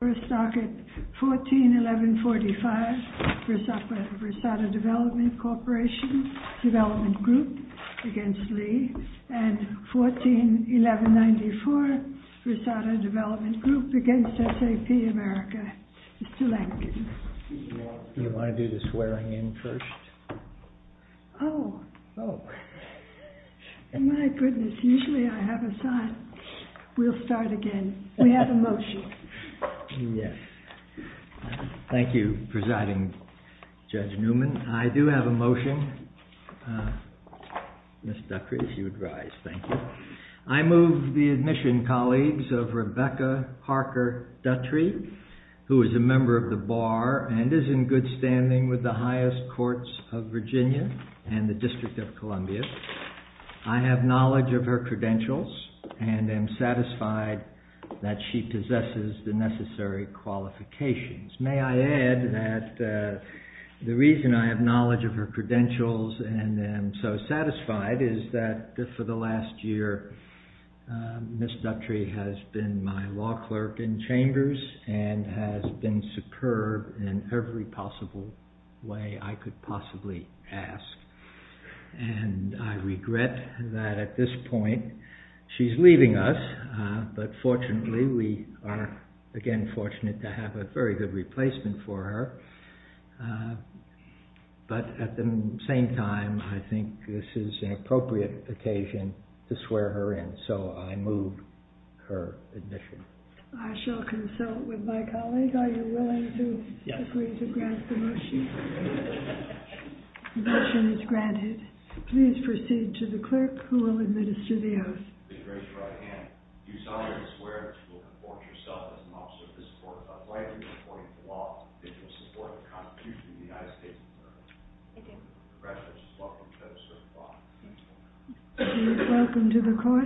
and 14-1194, Versata Development Group v. SAP America, Mr. Lankin. Do you want to do the swearing in first? Oh, my goodness, usually I have a sign. We'll start again. We have a motion. Yes. Thank you, Presiding Judge Newman. I do have a motion. Ms. Duttry, if you would rise. Thank you. I move the admission, colleagues, of Rebecca Parker Duttry, who is a member of the Bar and is in good standing with the highest courts of Virginia and the District of Columbia. I have knowledge of her credentials and am satisfied that she possesses the necessary qualifications. May I add that the reason I have knowledge of her credentials and am so satisfied is that for the last year, Ms. Duttry has been my law clerk in chambers and has been superb in every possible way I could possibly ask. And I regret that at this point she's leaving us, but fortunately we are, again, fortunate to have a very good replacement for her. But at the same time, I think this is an appropriate occasion to swear her in, so I move her admission. I shall consult with my colleague. Are you willing to agree to grant the motion? The motion is granted. Please proceed to the clerk who will administer the oath. I beg your pardon, Your Honor. I swear that I will perform this oath as an officer of the Supreme Court of the United States of America. You are welcome to the court.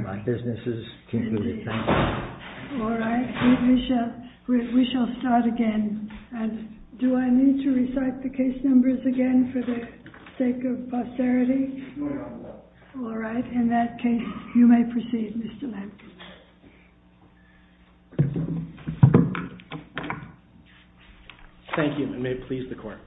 All right. We shall start again. Do I need to recite the case numbers again for the sake of posterity? You are welcome. All right. In that case, you may proceed, Mr. Lampert. Thank you, and may it please the court.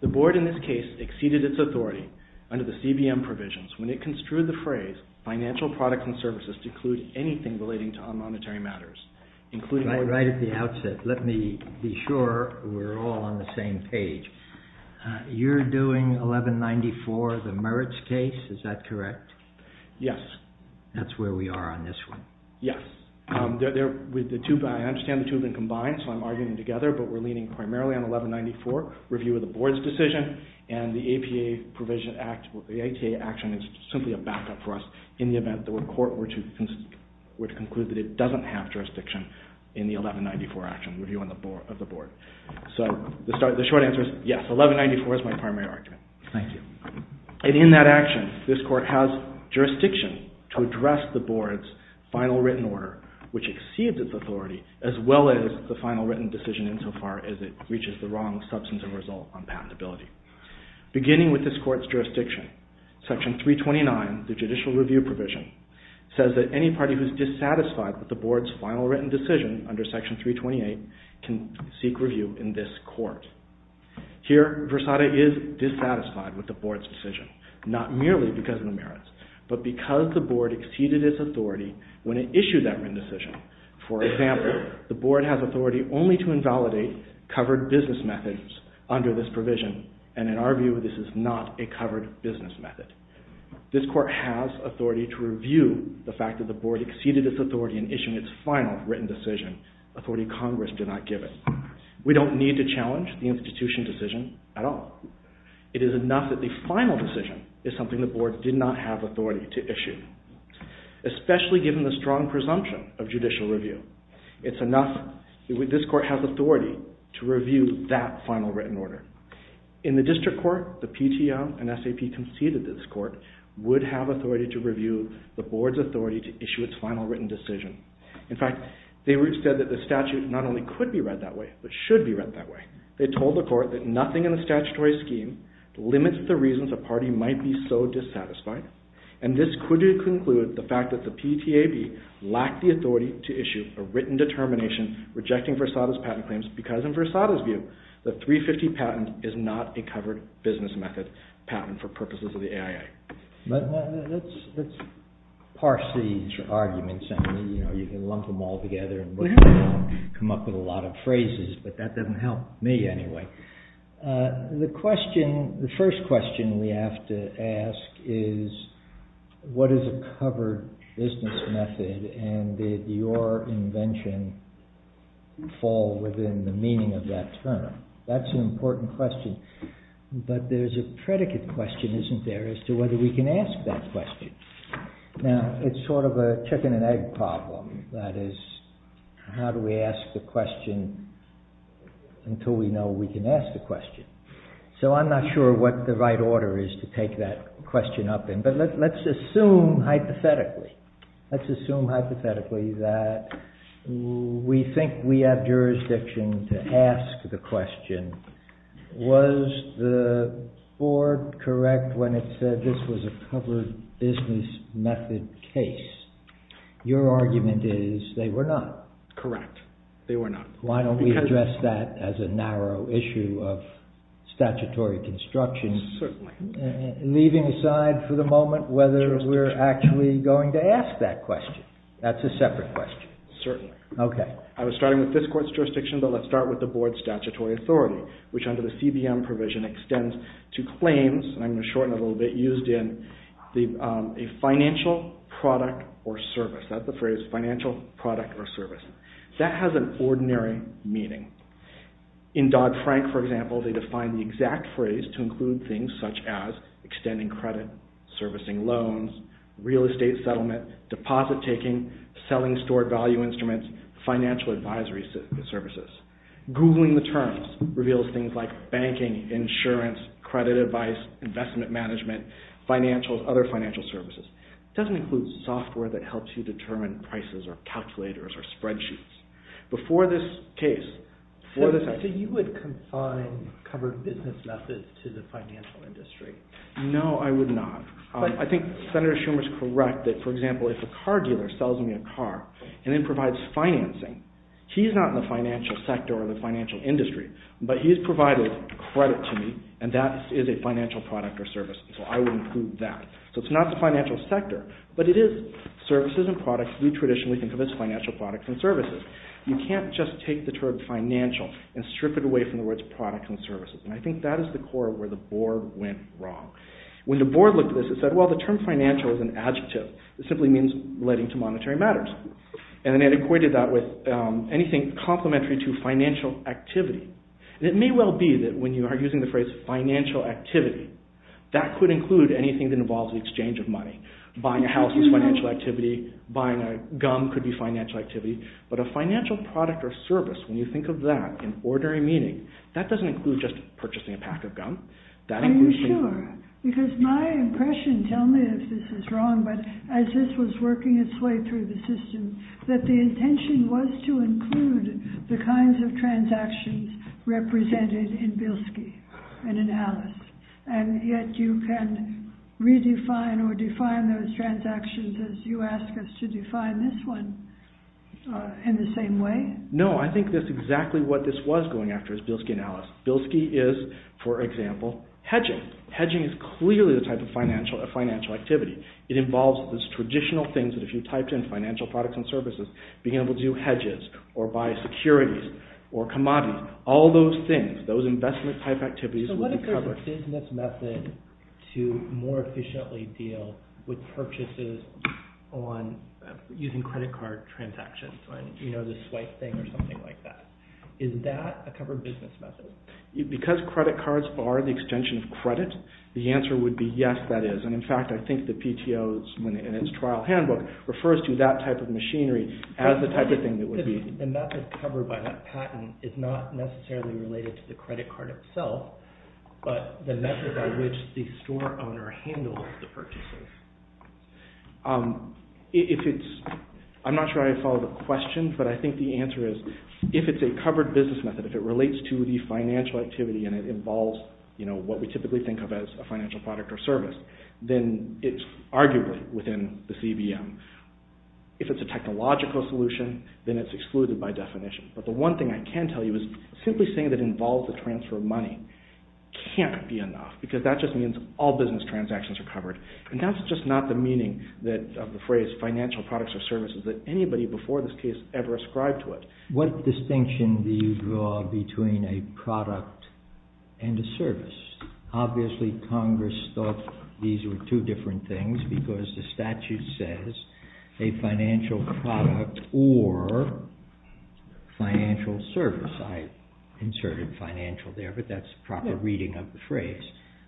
The board in this case exceeded its authority under the CBM provisions when it construed the phrase, financial products and services to include anything relating to our monetary matters. Right at the outset, let me be sure we're all on the same page. You're doing 1194, the merits case, is that correct? Yes. That's where we are on this one. Yes. I understand the two have been combined, so I'm arguing together, but we're leaning primarily on 1194, review of the board's decision, and the APA provision, the APA action is simply a backup for us in the event that the court were to conclude that it doesn't have jurisdiction in the 1194 action, review of the board. So the short answer is yes, 1194 is my primary argument. Thank you. And in that action, this court has jurisdiction to address the board's final written order, which exceeds its authority, as well as the final written decision insofar as it reaches the wrong substantive result on patentability. Beginning with this court's jurisdiction, section 329, the judicial review provision, says that any party who is dissatisfied with the board's final written decision under section 328 can seek review in this court. Here, Versada is dissatisfied with the board's decision, not merely because of the merits, but because the board exceeded its authority when it issued that written decision. For example, the board has authority only to invalidate covered business methods under this provision, and in our view, this is not a covered business method. This court has authority to review the fact that the board exceeded its authority in issuing its final written decision, authority Congress did not give it. We don't need to challenge the institution's decision at all. It is enough that the final decision is something the board did not have authority to issue. Especially given the strong presumption of judicial review, it's enough that this court has authority to review that final written order. In the district court, the PTO and SAP conceded this court would have authority to review the board's authority to issue its final written decision. In fact, they said that the statute not only could be read that way, but should be read that way. They told the court that nothing in the statutory scheme limits the reasons a party might be so dissatisfied, and this could conclude the fact that the PTAB lacked the authority to issue a written determination rejecting Versada's patent claims because, in Versada's view, the 350 patent is not a covered business method patent for purposes of the AIA. Let's parse these arguments. You can lump them all together and come up with a lot of phrases, but that doesn't help me anyway. The first question we have to ask is, what is a covered business method, and did your invention fall within the meaning of that term? That's an important question. But there's a predicate question, isn't there, as to whether we can ask that question. Now, it's sort of a chicken and egg problem. That is, how do we ask the question until we know we can ask the question? So I'm not sure what the right order is to take that question up in, but let's assume hypothetically Let's assume hypothetically that we think we have jurisdiction to ask the question, was the board correct when it said this was a covered business method case? Your argument is they were not. Correct. They were not. Why don't we address that as a narrow issue of statutory construction, leaving aside for the moment whether we're actually going to ask that question. That's a separate question. Certainly. Okay. I was starting with this court's jurisdiction, but let's start with the board's statutory authority, which under the CBM provision extends to claims, and I'm going to shorten it a little bit, used in a financial product or service. That's the phrase, financial product or service. That has an ordinary meaning. In Dodd-Frank, for example, they define the exact phrase to include things such as extending credit, servicing loans, real estate settlement, deposit taking, selling store value instruments, financial advisory services. Googling the terms reveals things like banking, insurance, credit advice, investment management, financials, other financial services. It doesn't include software that helps you determine prices or calculators or spreadsheets. But for this case, for this case... So you would confine covered business methods to the financial industry? No, I would not. I think Senator Schumer's correct that, for example, if a car dealer sells me a car and then provides financing, he's not in the financial sector or the financial industry, but he's provided credit to me, and that is a financial product or service, so I would include that. So it's not the financial sector, but it is services and products, and that's the new tradition within financial products and services. You can't just take the term financial and strip it away from the words products and services, and I think that is the core of where the board went wrong. When the board looked at this, it said, well, the term financial is an adjective. It simply means relating to monetary matters. And they had equated that with anything complementary to financial activity. It may well be that when you are using the phrase financial activity, that could include anything that involves an exchange of money, buying a house is financial activity, buying gum could be financial activity, but a financial product or service, when you think of that in ordinary meaning, that doesn't include just purchasing a pack of gum. Are you sure? Because my impression, tell me if this is wrong, but as this was working its way through the system, that the intention was to include the kinds of transactions represented in Bilski and in Alice, and yet you can redefine or define those transactions as you ask us to define this one in the same way? No, I think that's exactly what this was going after is Bilski and Alice. Bilski is, for example, hedging. Hedging is clearly the type of financial activity. It involves those traditional things that if you typed in financial products and services, being able to do hedges or buy securities or commodities, all those things, those investment type activities would be covered. So what if we're using this method to more efficiently deal with purchases on using credit card transactions, you know, this swipe thing or something like that? Is that a covered business method? Because credit cards are the extension of credit, the answer would be yes, that is. And in fact, I think the PTO in its trial handbook refers to that type of machinery as the type of thing that would be... The method covered by that patent is not necessarily related to the credit card itself, but the method by which the store owner handles the purchases. I'm not sure I follow the question, but I think the answer is if it's a covered business method, if it relates to the financial activity and it involves, you know, what we typically think of as a financial product or service, then it's arguably within the CBM. If it's a technological solution, then it's excluded by definition. But the one thing I can tell you is simply saying that it involves the transfer of money can't be enough, because that just means all business transactions are covered. And that's just not the meaning of the phrase financial products or services that anybody before this case ever ascribed to it. Obviously, Congress thought these were two different things, because the statute says a financial product or financial service. I inserted financial there, but that's a proper reading of the phrase.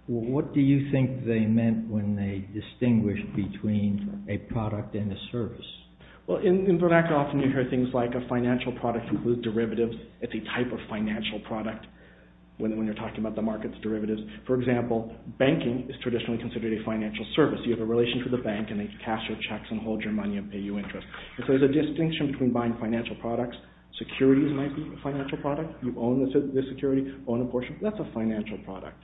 What do you think they meant when they distinguished between a product and a service? Well, in vernacular often you hear things like a financial product with derivatives. It's a type of financial product when you're talking about the market's derivatives. For example, banking is traditionally considered a financial service. You have a relation to the bank, and they cash your checks and hold your money and pay you interest. If there's a distinction between buying financial products, securities might be a financial product. You own the security, own a portion. That's a financial product.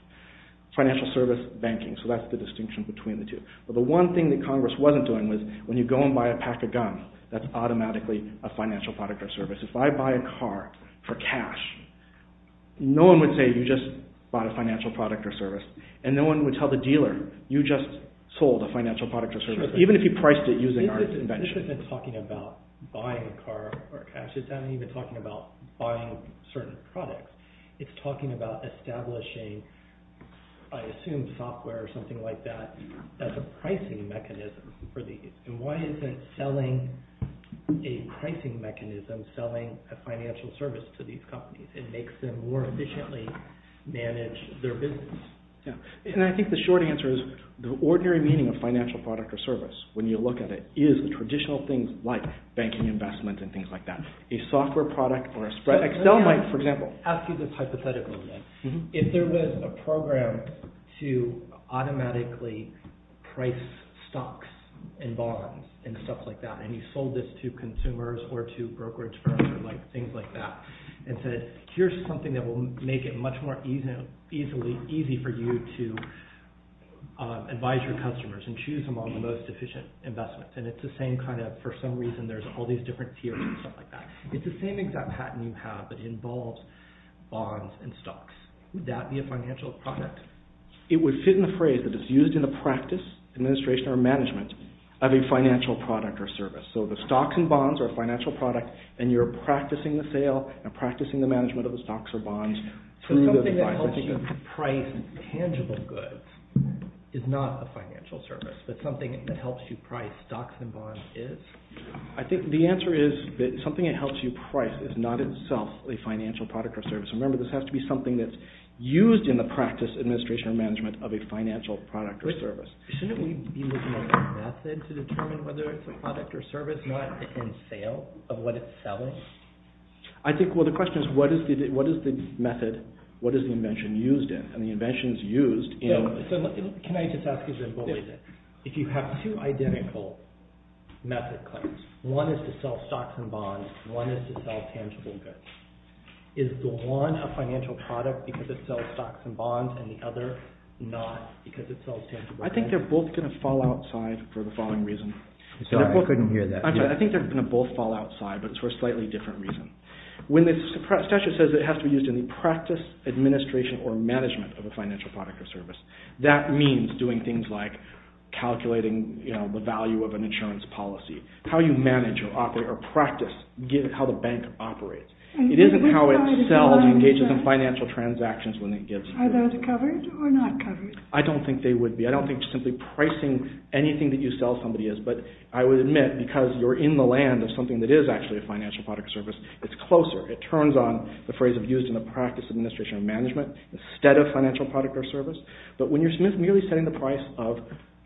Financial service, banking. So that's the distinction between the two. But the one thing that Congress wasn't doing was when you go and buy a pack of guns, that's automatically a financial product or service. If I buy a car for cash, no one would say you just bought a financial product or service, and no one would tell the dealer you just sold a financial product or service, even if you priced it using our invention. This isn't talking about buying a car for cash. It's not even talking about buying a service product. It's talking about establishing, I assume software or something like that, as a pricing mechanism. And why isn't selling a pricing mechanism selling a financial service to these companies? It makes them more efficiently manage their business. And I think the short answer is the ordinary meaning of financial product or service, when you look at it, is traditional things like banking investments and things like that. A software product or an Excel might, for example... If there was a program to automatically price stocks and bonds and stuff like that, and you sold this to consumers or to brokerage firms and things like that, and said, here's something that will make it much more easy for you to advise your customers and choose among the most efficient investments. And it's the same kind of, for some reason, there's all these different theories and stuff like that. If it's the same exact patent you have that involves bonds and stocks, would that be a financial product? It would fit in the phrase that it's used in the practice, administration, or management of a financial product or service. So the stocks and bonds are a financial product, and you're practicing the sale and practicing the management of the stocks or bonds. So something that helps you price tangible goods is not a financial service, but something that helps you price stocks and bonds is? I think the answer is that something that helps you price is not itself a financial product or service. Remember, this has to be something that's used in the practice, administration, and management of a financial product or service. Shouldn't you use a method to determine whether it's a product or service, not in sale of what it sells? I think, well, the question is, what is the method, what is the invention used in? And the invention is used in... Can I just ask you a question? If you have two identical method claims, one is to sell stocks and bonds, one is to sell tangible goods, is the one a financial product because it sells stocks and bonds and the other not because it sells tangible goods? I think they're both going to fall outside for the following reason. I'm sorry, I couldn't hear that. Okay, I think they're going to both fall outside, but it's for a slightly different reason. When the statute says it has to be used in the practice, administration, or management of a financial product or service, that means doing things like calculating the value of an insurance policy, how you manage or practice how the bank operates. It isn't how it sells and engages in financial transactions when it gives. Are those covered or not covered? I don't think they would be. I don't think simply pricing anything that you sell somebody is, but I would admit, because you're in the land of something that is actually a financial product or service, it's closer. It turns on the phrase of used in the practice, administration, or management instead of financial product or service. But when you're merely setting the price of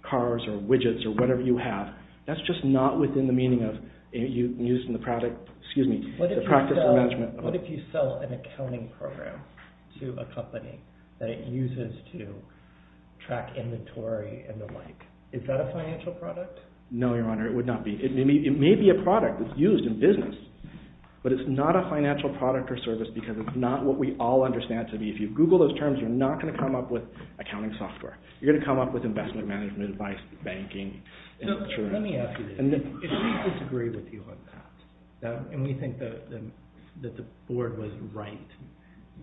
cars or widgets or whatever you have, that's just not within the meaning of used in the practice of management. What if you sell an accounting program to a company that it uses to track inventory and the like? Is that a financial product? No, Your Honor, it would not be. It may be a product used in business, but it's not a financial product or service because it's not what we all understand to be. If you Google those terms, you're not going to come up with accounting software. You're going to come up with investment management advice, banking, insurance. Let me ask you this. If we disagree with you on that, and we think that the board was right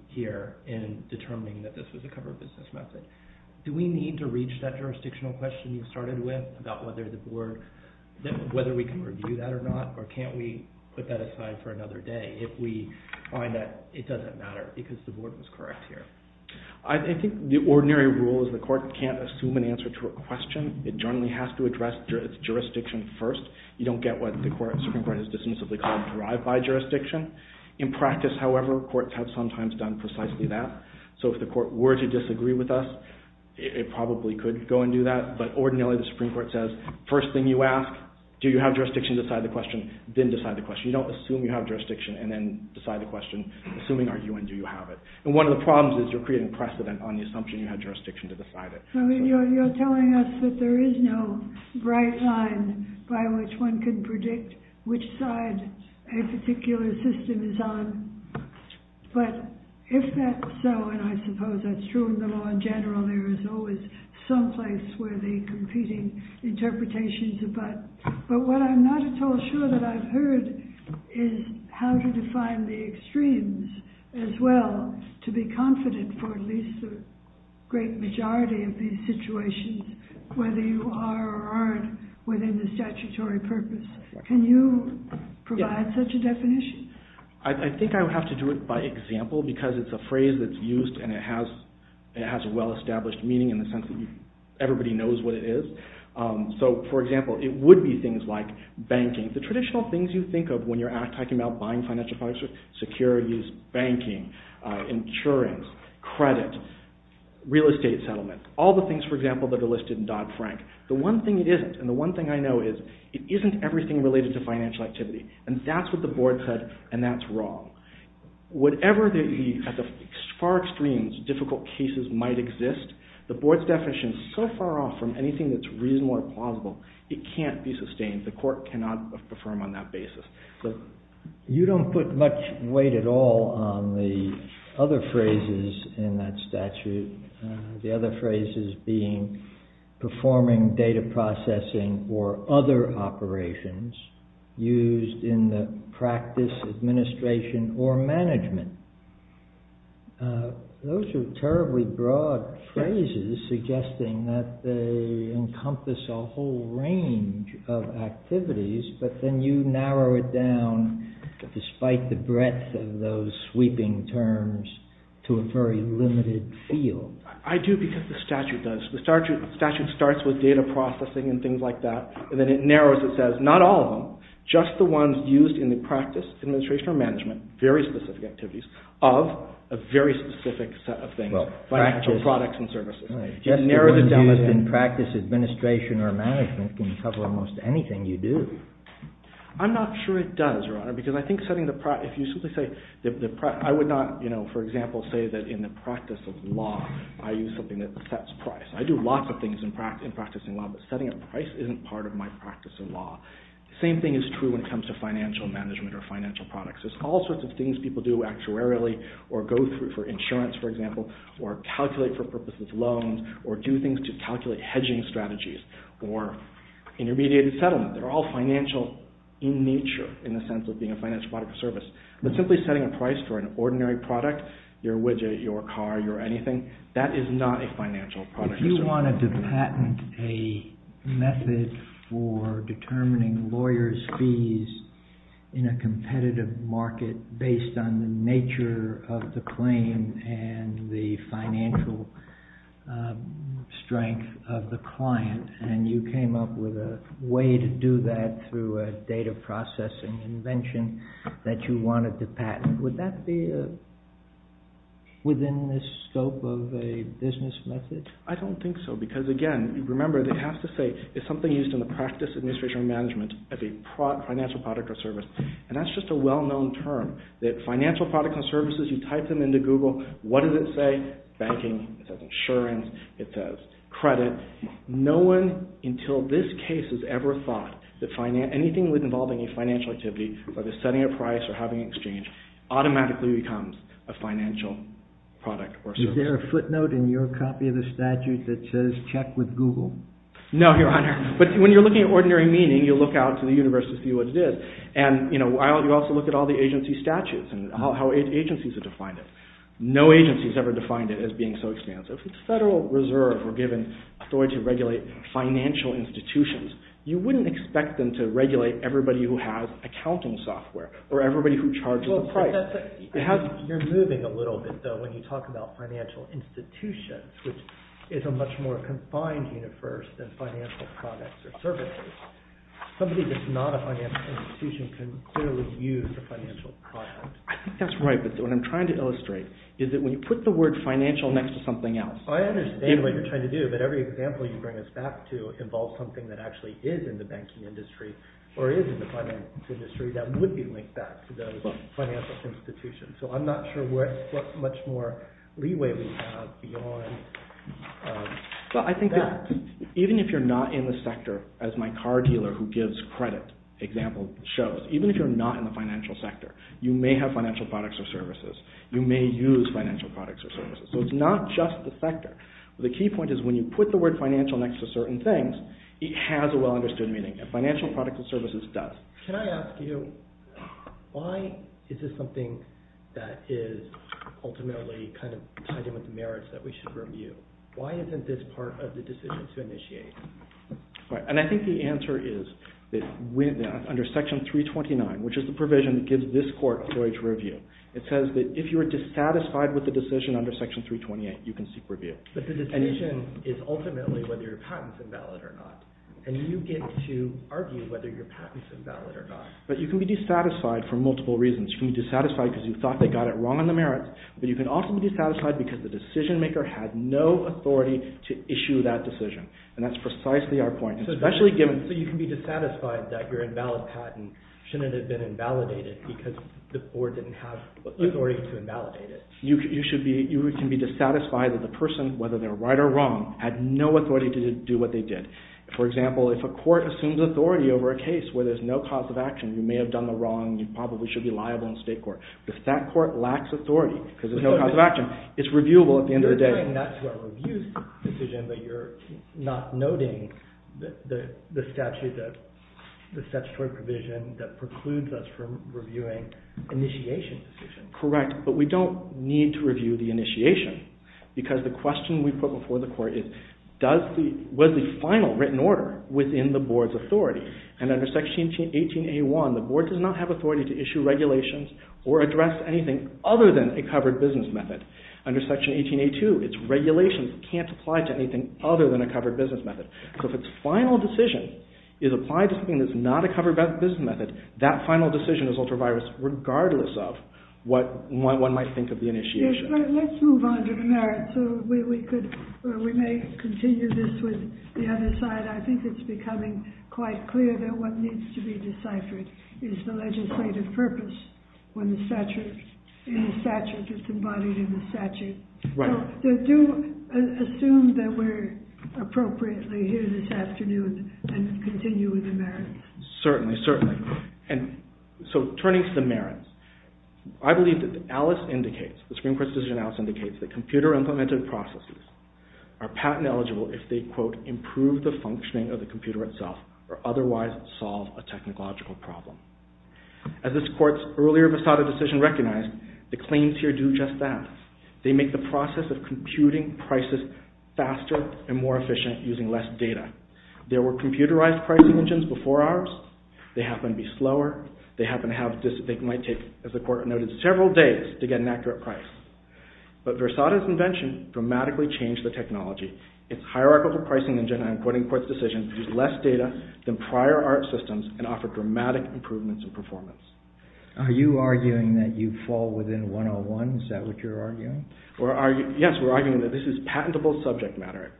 here in determining that this was a covered business method, do we need to reach that jurisdictional question you started with about whether we can review that or not? Or can't we put that aside for another day if we find that it doesn't matter because the board was correct here? I think the ordinary rule is the court can't assume an answer to a question. It generally has to address its jurisdiction first. You don't get what the Supreme Court has to say, so they can't drive by jurisdiction. In practice, however, courts have sometimes done precisely that. So if the court were to disagree with us, it probably could go and do that. But ordinarily, the Supreme Court says, first thing you ask, do you have jurisdiction to decide the question? Then decide the question. You don't assume you have jurisdiction and then decide the question assuming you argue and do you have it. One of the problems is you're creating precedent on the assumption you have jurisdiction to decide it. You're telling us that there is no right line by which one can predict which side a particular system is on. But if that's so, and I suppose that's true in the law in general, there is always someplace where the competing interpretations abut. But what I'm not at all sure that I've heard is how to define the extremes as well to be confident for at least the great majority of these situations whether you are or aren't within the statutory purpose. Can you provide such a definition? I think I would have to do it by example because it's a phrase that's used and it has a well-established meaning in the sense that everybody knows what it is. So, for example, it would be things like banking. The traditional things you think of when you're talking about buying financial products are securities, banking, insurance, credit, real estate settlement. All the things, for example, that are listed in Dodd-Frank. The one thing it isn't and the one thing I know is it isn't everything related to financial activity. And that's what the board said and that's wrong. Whatever the far extreme difficult cases might exist, the board's definition is so far off from anything that's reasonable or plausible, it can't be sustained. The court cannot affirm on that basis. You don't put much weight at all on the other phrases in that statute. The other phrases being performing data processing or other operations used in the practice, administration, or management. Those are terribly broad phrases suggesting that they encompass a whole range of activities but then you narrow it down despite the breadth of those sweeping terms to a very limited field. I do because the statute does. The statute starts with data processing and things like that and then it narrows and says not all of them, just the ones used in the practice, administration, or management, very specific activities of a very specific set of things, products and services. Just the ones used in practice, administration, or management can cover almost anything you do. I'm not sure it does because I think setting the price, if you simply say, I would not, for example, say that in the practice of law I use something that sets price. I do lots of things in practicing law but setting a price isn't part of my practice in law. The same thing is true in terms of financial management or financial products. There's all sorts of things people do actuarially or go through for insurance, for example, or calculate for purposes loans or do things to calculate hedging strategies or intermediate and settlement. They're all financial in nature in the sense of being a financial product or service but simply setting a price for an ordinary product, your widget, your car, your anything, that is not a financial product or service. If you wanted to patent a method for determining lawyers' fees in a competitive market based on the nature of the claim and the financial strength of the client and you came up with a way to do that through a data processing invention that you wanted to patent, would that be within the scope of a business method? I don't think so because, again, remember it has to say it's something used in the practice of administrative management as a financial product or service. And that's just a well-known term that financial products and services, you type them into Google, what does it say? Banking, it says insurance, it says credit. No one until this case has ever thought that anything involving a financial activity automatically becomes a financial product or service. Is there a footnote in your copy of the statute that says check with Google? No, Your Honor. But when you're looking at ordinary meaning, you look out to the universe to see what it is. And you also look at all the agency statutes and how agencies are defined. No agency has ever defined it as being so expansive. If the Federal Reserve were given authority to regulate financial institutions, you wouldn't expect them to regulate everybody who has accounting software or everybody who charges a price. You're moving a little bit, though, when you talk about financial institutions, which is a much more confined universe than financial products or services. Somebody that's not a financial institution can clearly use a financial product. I think that's right, but what I'm trying to illustrate is that when you put the word financial next to something else... I understand what you're trying to do, but every example you bring us back to involves something that actually is in the banking industry or is in the finance industry that would be linked back to those financial institutions. So I'm not sure what much more leeway we have beyond that. Even if you're not in the sector, as my car dealer who gives credit example shows, even if you're not in the financial sector, you may have financial products or services. You may use financial products or services. So it's not just the sector. The key point is when you put the word financial next to certain things, it has a well-understood meaning. Financial products and services does. Can I ask you why is this something that is ultimately tied in with the merits that we should review? Why isn't this part of the decision to initiate? I think the answer is that under Section 329, which is the provision that gives this court courage review, it says that if you are dissatisfied with the decision under Section 328, you can seek review. But the decision is ultimately whether your patent is invalid or not. And you get to argue whether your patent is invalid or not. But you can be dissatisfied for multiple reasons. You can be dissatisfied because you thought they got it wrong on the merits, but you can also be dissatisfied because the decision maker had no authority to issue that decision. And that's precisely our point. So you can be dissatisfied that your invalid patent shouldn't have been invalidated because the court didn't have authority to invalidate it. You can be dissatisfied that the person, whether they're right or wrong, had no authority to do what they did. For example, if a court assumes authority over a case where there's no cause of action, you may have done the wrong, you probably should be liable in state court. If that court lacks authority because there's no cause of action, it's reviewable at the end of the day. And that's a well-reviewed decision, but you're not noting the statutory provision that precludes us from reviewing initiation decisions. Correct. But we don't need to review the initiation because the question we put before the court is, was the final written order within the board's authority? And under Section 18A1, the board does not have authority to issue regulations or address anything other than a covered business method. Under Section 18A2, it's regulations can't apply to anything other than a covered business method. So if a final decision is applied to something that's not a covered business method, that final decision is ultra-virus regardless of what one might think of the initiation. Let's move on to the merits. We may continue this with the other side. I think it's becoming quite clear that what needs to be deciphered is the legislative purpose when the statute is embodied in the statute. So do assume that we're appropriately here this afternoon and continue with the merits. I believe that Alice indicates, the Supreme Court's decision in Alice indicates that computer-implemented processes are patent-eligible if they, quote, improve the functioning of the computer itself or otherwise solve a technological problem. As this court's earlier versatile decision recognized, the claims here do just that. They make the process of computing prices faster and more efficient using less data. There were computerized price engines before ours. They happen to be slower. They happen to have, they might take, as the court noted, several days to get an accurate price. But Versata's invention dramatically changed the technology. Its hierarchical pricing engine, I'm quoting the court's decision, used less data than prior art systems and offered dramatic improvements in performance. Are you arguing that you fall within 101? Is that what you're arguing? Yes, we're arguing that this is patentable subject matter.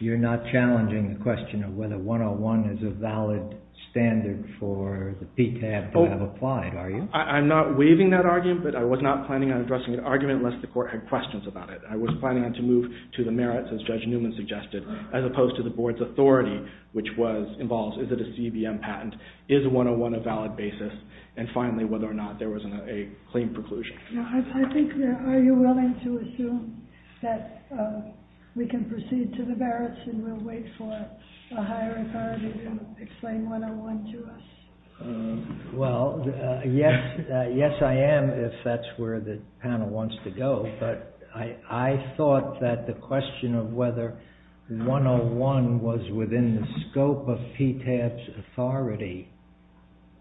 You're not challenging the question of whether 101 is a valid standard for the PTAB to have applied, are you? I'm not waiving that argument, but I was not planning on addressing the argument unless the court had questions about it. I was planning on to move to the merits, as Judge Newman suggested, as opposed to the board's authority, which was, involves, is it a CBM patent, is 101 a valid basis, and finally, whether or not there was a claim preclusion. I think, are you willing to assume that we can proceed to the merits and we'll wait for a higher authority to explain 101 to us? Well, yes, yes I am, if that's where the panel wants to go, but I thought that the question of whether 101 was within the scope of PTAB's authority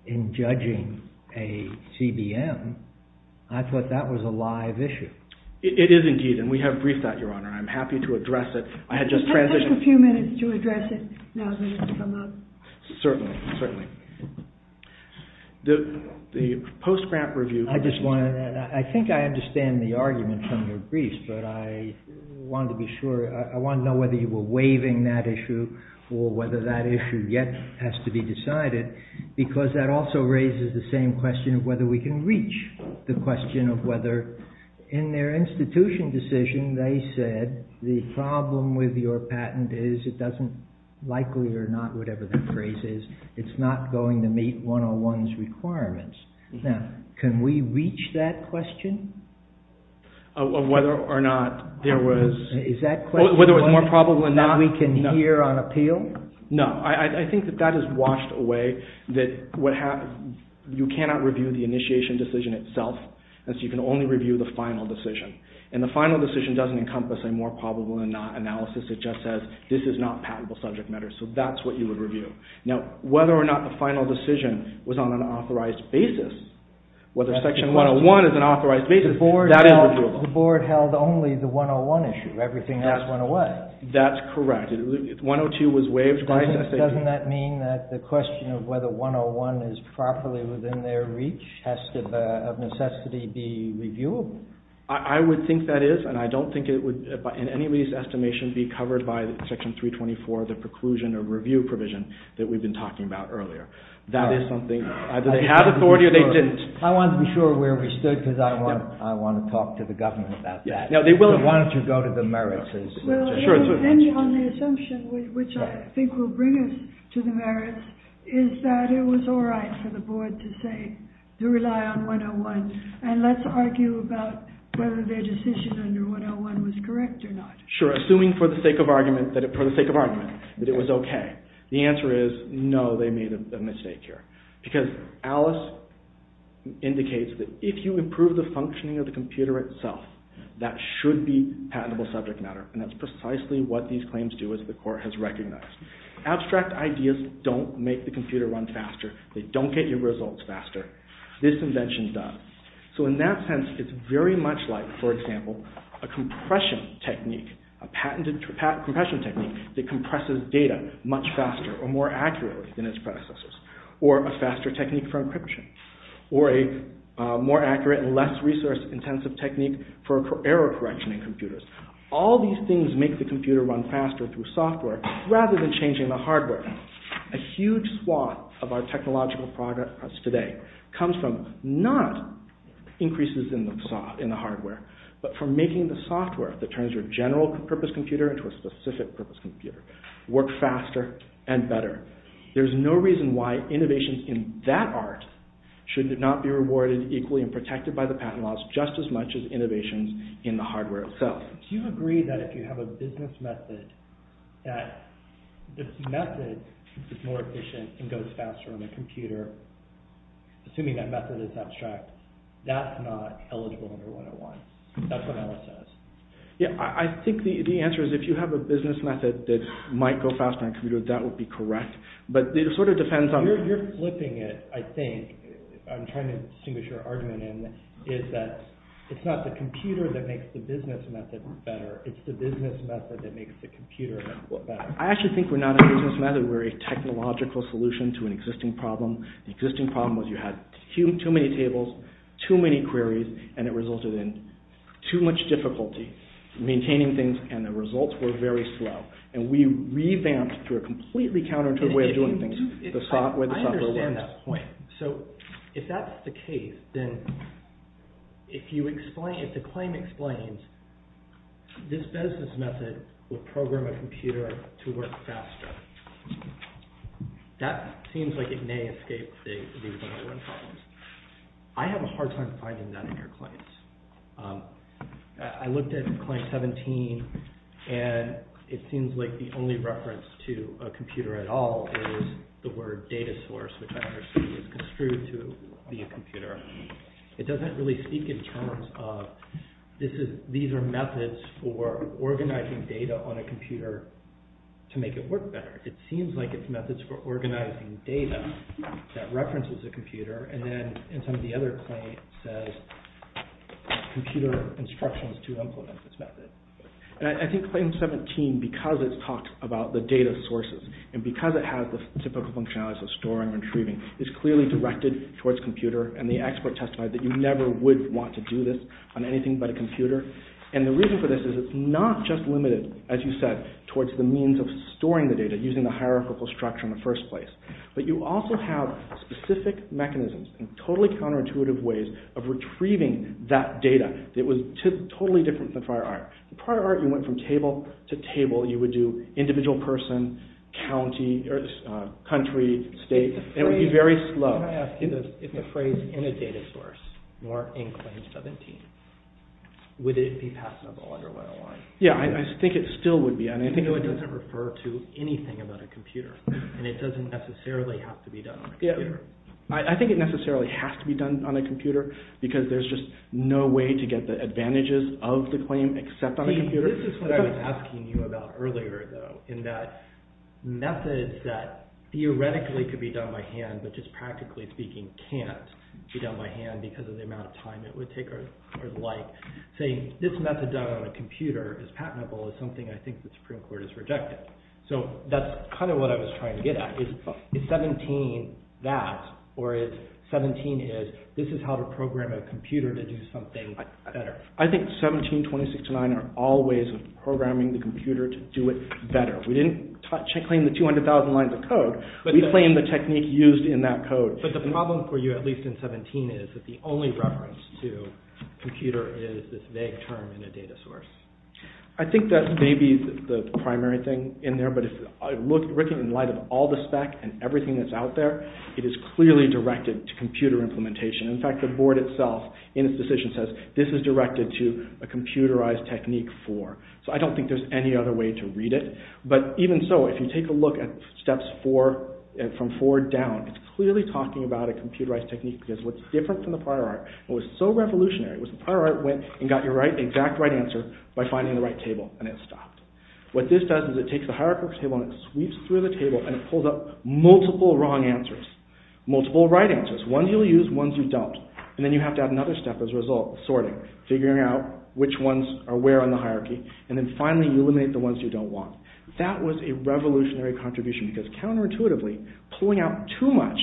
in judging a CBM, I thought that was a live issue. It is indeed, and we have briefed that, Your Honor, and I'm happy to address it. I had just transitioned... Just a few minutes to address it, and I was going to come up. Certainly, certainly. The post-grant review... I just wanted to add, I think I understand the argument from your briefs, but I wanted to know whether you were waiving that issue or whether that issue yet has to be decided, because that also raises the same question of whether we can reach the question of whether, in their institution decision, they said, the problem with your patent is it doesn't, likely or not, whatever the phrase is, it's not going to meet 101's requirements. Now, can we reach that question? Of whether or not there was... Is that question... No, I think that that is washed away. You cannot review the initiation decision itself. You can only review the final decision, and the final decision doesn't encompass a more probable analysis. It just says, this is not patentable subject matter, so that's what you would review. Now, whether or not the final decision was on an authorized basis, whether Section 101 is an authorized basis, that is... The Board held only the 101 issue, everything else went away. That's correct. 102 was waived... Doesn't that mean that the question of whether 101 is properly within their reach has to, of necessity, be reviewable? I would think that is, and I don't think it would, in any of these estimations, be covered by Section 324, the preclusion or review provision that we've been talking about earlier. That is something, either they had authority or they didn't. I want to be sure where we stood, because I want to talk to the government about that. They will have wanted to go to the merits. The only assumption, which I think will bring us to the merits, is that it was all right for the Board to say, to rely on 101, and let's argue about whether their decision under 101 was correct or not. Assuming, for the sake of argument, that it was okay. The answer is, no, they made a mistake here. Because Alice indicates that if you improve the functioning of the computer itself, that should be patentable subject matter. And that's precisely what these claims do, as the Court has recognized. Abstract ideas don't make the computer run faster. They don't get your results faster. This invention does. So in that sense, it's very much like, for example, a compression technique, a patented compression technique that compresses data much faster or more accurately than its predecessors. Or a faster technique for encryption. Or a more accurate and less resource-intensive technique for error correction in computers. All these things make the computer run faster through software rather than changing the hardware. A huge swath of our technological progress today comes from not increases in the hardware, but from making the software that turns your general-purpose computer into a specific-purpose computer work faster and better. There's no reason why innovations in that art should not be rewarded equally and protected by the patent laws just as much as innovations in the hardware itself. Do you agree that if you have a business method that this method is more efficient and goes faster on the computer, assuming that method is abstract, that's not eligible under 101? That's what Alice says. Yeah, I think the answer is if you have a business method that might go faster on a computer, that would be correct. But it sort of depends on... You're flipping it, I think. I'm trying to distinguish your argument. It's not the computer that makes the business method better. It's the business method that makes the computer better. I actually think we're not a business method. We're a technological solution to an existing problem. The existing problem was you had too many tables, too many queries, and it resulted in too much difficulty maintaining things, and the results were very slow. And we revamped to a completely counterintuitive way of doing things. I understand that point. So if that's the case, then if the claim explains this business method will program a computer to work faster, that seems like it may escape the 101 problems. I have a hard time finding that in your claims. I looked at Claim 17, and it seems like the only reference to a computer at all is the word data source, which I understand is construed to be a computer. It doesn't really speak in terms of these are methods for organizing data on a computer to make it work better. It seems like it's methods for organizing data that references a computer. And then in some of the other claims, it says computer instructions to implement this method. I think Claim 17, because it talks about the data sources, and because it has the typical functionality of storing and retrieving, is clearly directed towards computer, and the expert testified that you never would want to do this on anything but a computer. And the reason for this is it's not just limited, as you said, towards the means of storing the data using a hierarchical structure in the first place, but you also have specific mechanisms and totally counterintuitive ways of retrieving that data. It was totally different from prior art. In prior art, you went from table to table. You would do individual person, country, state. It would be very slow. I want to ask you this. If the phrase, any data source, were in Claim 17, would it be passable otherwise? Yeah, I think it still would be. I think it doesn't refer to anything but a computer, and it doesn't necessarily have to be done on a computer. I think it necessarily has to be done on a computer, because there's just no way to get the advantages of the claim except on a computer. This is what I was asking you about earlier, though, in that methods that theoretically could be done by hand but just practically speaking can't be done by hand because of the amount of time it would take, are like saying this method done on a computer is patentable is something I think the Supreme Court has rejected. So that's kind of what I was trying to get at. Is 17 that, or is 17 is this is how to program a computer to do something better? I think 17, 26, and 9 are all ways of programming the computer to do it better. We didn't claim the 200,000 lines of code. We claimed the technique used in that code. But the problem for you, at least in 17, is that the only reference to computer is this vague term in a data source. I think that may be the primary thing in there, but written in light of all the spec and everything that's out there, it is clearly directed to computer implementation. In fact, the board itself, in its decision, says this is directed to a computerized technique 4. So I don't think there's any other way to read it. But even so, if you take a look at steps from 4 down, it's clearly talking about a computerized technique because what's different from the prior art, what was so revolutionary was the prior art went and got your exact right answer by finding the right table and it stopped. What this does is it takes the hierarchical table and it sweeps through the table and it pulls up multiple wrong answers, multiple right answers, ones you'll use, ones you doubt. And then you have to add another step as a result, sorting, figuring out which ones are where on the hierarchy, and then finally you eliminate the ones you don't want. That was a revolutionary contribution because counterintuitively, pulling out too much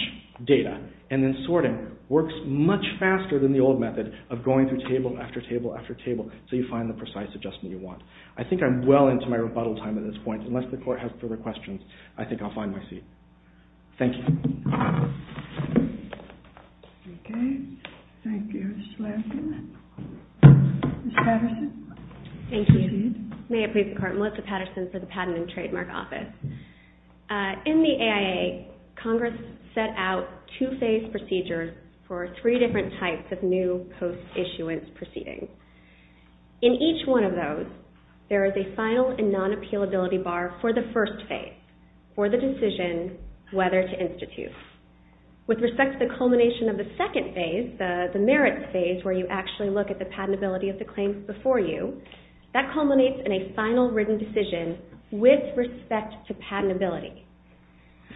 data and then sorting works much faster than the old method of going through table after table after table until you find the precise adjustment you want. I think I'm well into my rebuttal time at this point. Unless the court has further questions, I think I'll find my seat. Thank you. Okay. Thank you. Ms. Patterson? Thank you. May it please the court, Melissa Patterson for the Patent and Trademark Office. In the AIA, Congress set out two-phase procedures for three different types of new post-issuance proceedings. In each one of those, there is a final and non-appealability bar for the first phase, for the decision whether to institute. With respect to the culmination of the second phase, the merits phase, where you actually look at the patentability of the claims before you, that culminates in a final written decision with respect to patentability.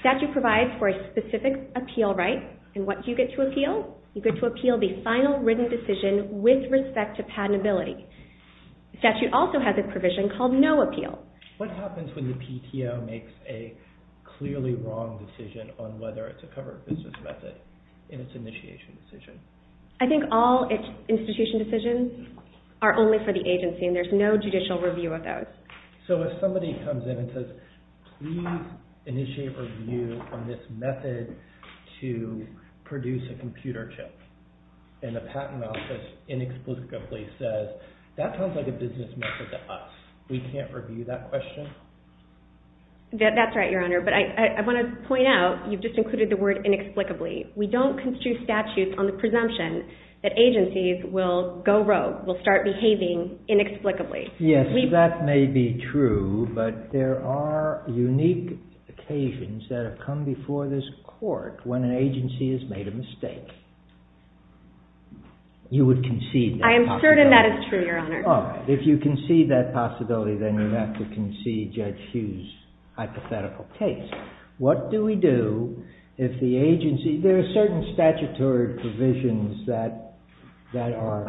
Statutes provide for a specific appeal right and what do you get to appeal? You get to appeal the final written decision with respect to patentability. Statute also has a provision called no appeal. What happens when the PTO makes a clearly wrong decision on whether it's a covered business method in its initiation decision? I think all its initiation decisions are only for the agency and there's no judicial review of those. So if somebody comes in and says, we initiate review on this method to produce a computer chip and the patent office inexplicably says, that sounds like a business method to us. We can't review that question? That's right, Your Honor. But I want to point out, you've just included the word inexplicably. We don't construe statutes on the presumption that agencies will go rogue, will start behaving inexplicably. Yes, that may be true, but there are unique occasions that have come before this court when an agency has made a mistake. You would concede that possibility? I am certain that is true, Your Honor. If you concede that possibility, then you have to concede Judge Hughes' hypothetical case. What do we do if the agency, there are certain statutory provisions that are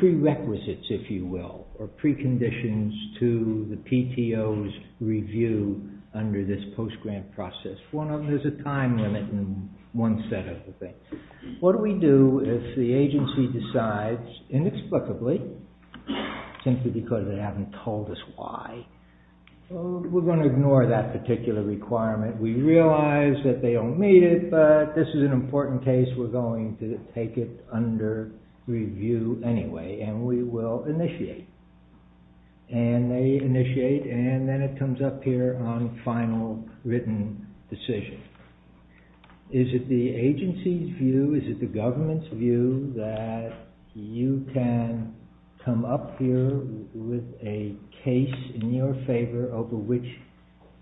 prerequisites, if you will, or preconditions to the PTO's review under this post-grant process? Well, there's a time limit in one set of the things. What do we do if the agency decides inexplicably, simply because they haven't told us why? We're going to ignore that particular requirement. We realize that they don't need it, but this is an important case. We're going to take it under review anyway and we will initiate. And they initiate, and then it comes up here on final written decision. Is it the agency's view, is it the government's view, that you can come up here with a case in your favor over which,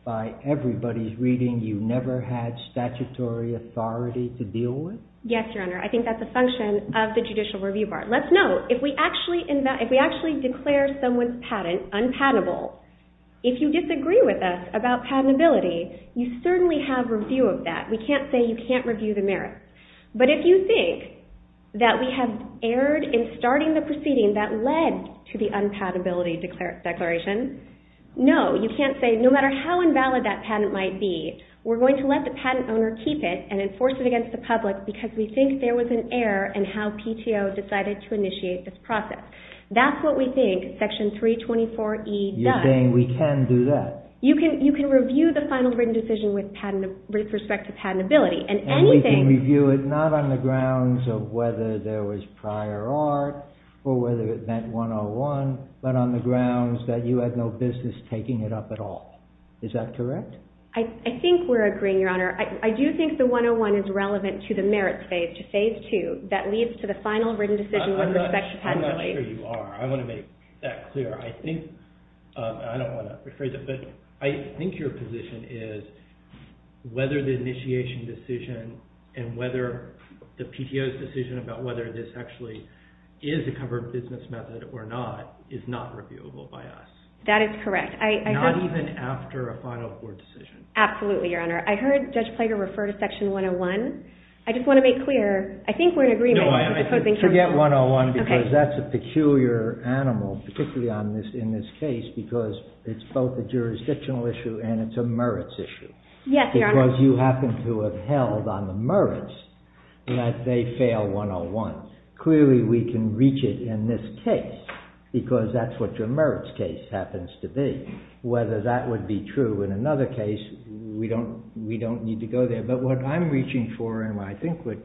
by everybody's reading, you never had statutory authority to deal with? Yes, Your Honor. I think that's a function of the Judicial Review Board. Let's note, if we actually declare someone's patent unpatentable, if you disagree with us about patentability, you certainly have review of that. We can't say you can't review the merits. But if you think that we have erred in starting the proceeding that led to the unpatentability declaration, no, you can't say, no matter how invalid that patent might be, we're going to let the patent owner keep it and enforce it against the public because we think there was an error in how PTO decided to initiate this process. That's what we think Section 324E does. You're saying we can do that? You can review the final written decision with respect to patentability. And we can review it not on the grounds of whether there was prior art or whether it meant 101, but on the grounds that you had no business taking it up at all. Is that correct? I think we're agreeing, Your Honor. I do think the 101 is relevant to the merits phase, which is phase 2, that leads to the final written decision with respect to patentability. I'm not sure you are. I want to make that clear. I think, and I don't want to upgrade it, but I think your position is whether the initiation decision and whether the PTO's decision about whether this actually is a covered business method or not is not reviewable by us. That is correct. Not even after a final court decision. Absolutely, Your Honor. I heard Judge Plater refer to Section 101. I just want to make clear, I think we're in agreement. Forget 101 because that's a peculiar animal, particularly in this case because it's both a jurisdictional issue and it's a merits issue. Yes, Your Honor. Because you happen to have held on the merits that they fail 101. Clearly, we can reach it in this case because that's what your merits case happens to be. Whether that would be true in another case, we don't need to go there. But what I'm reaching for and I think what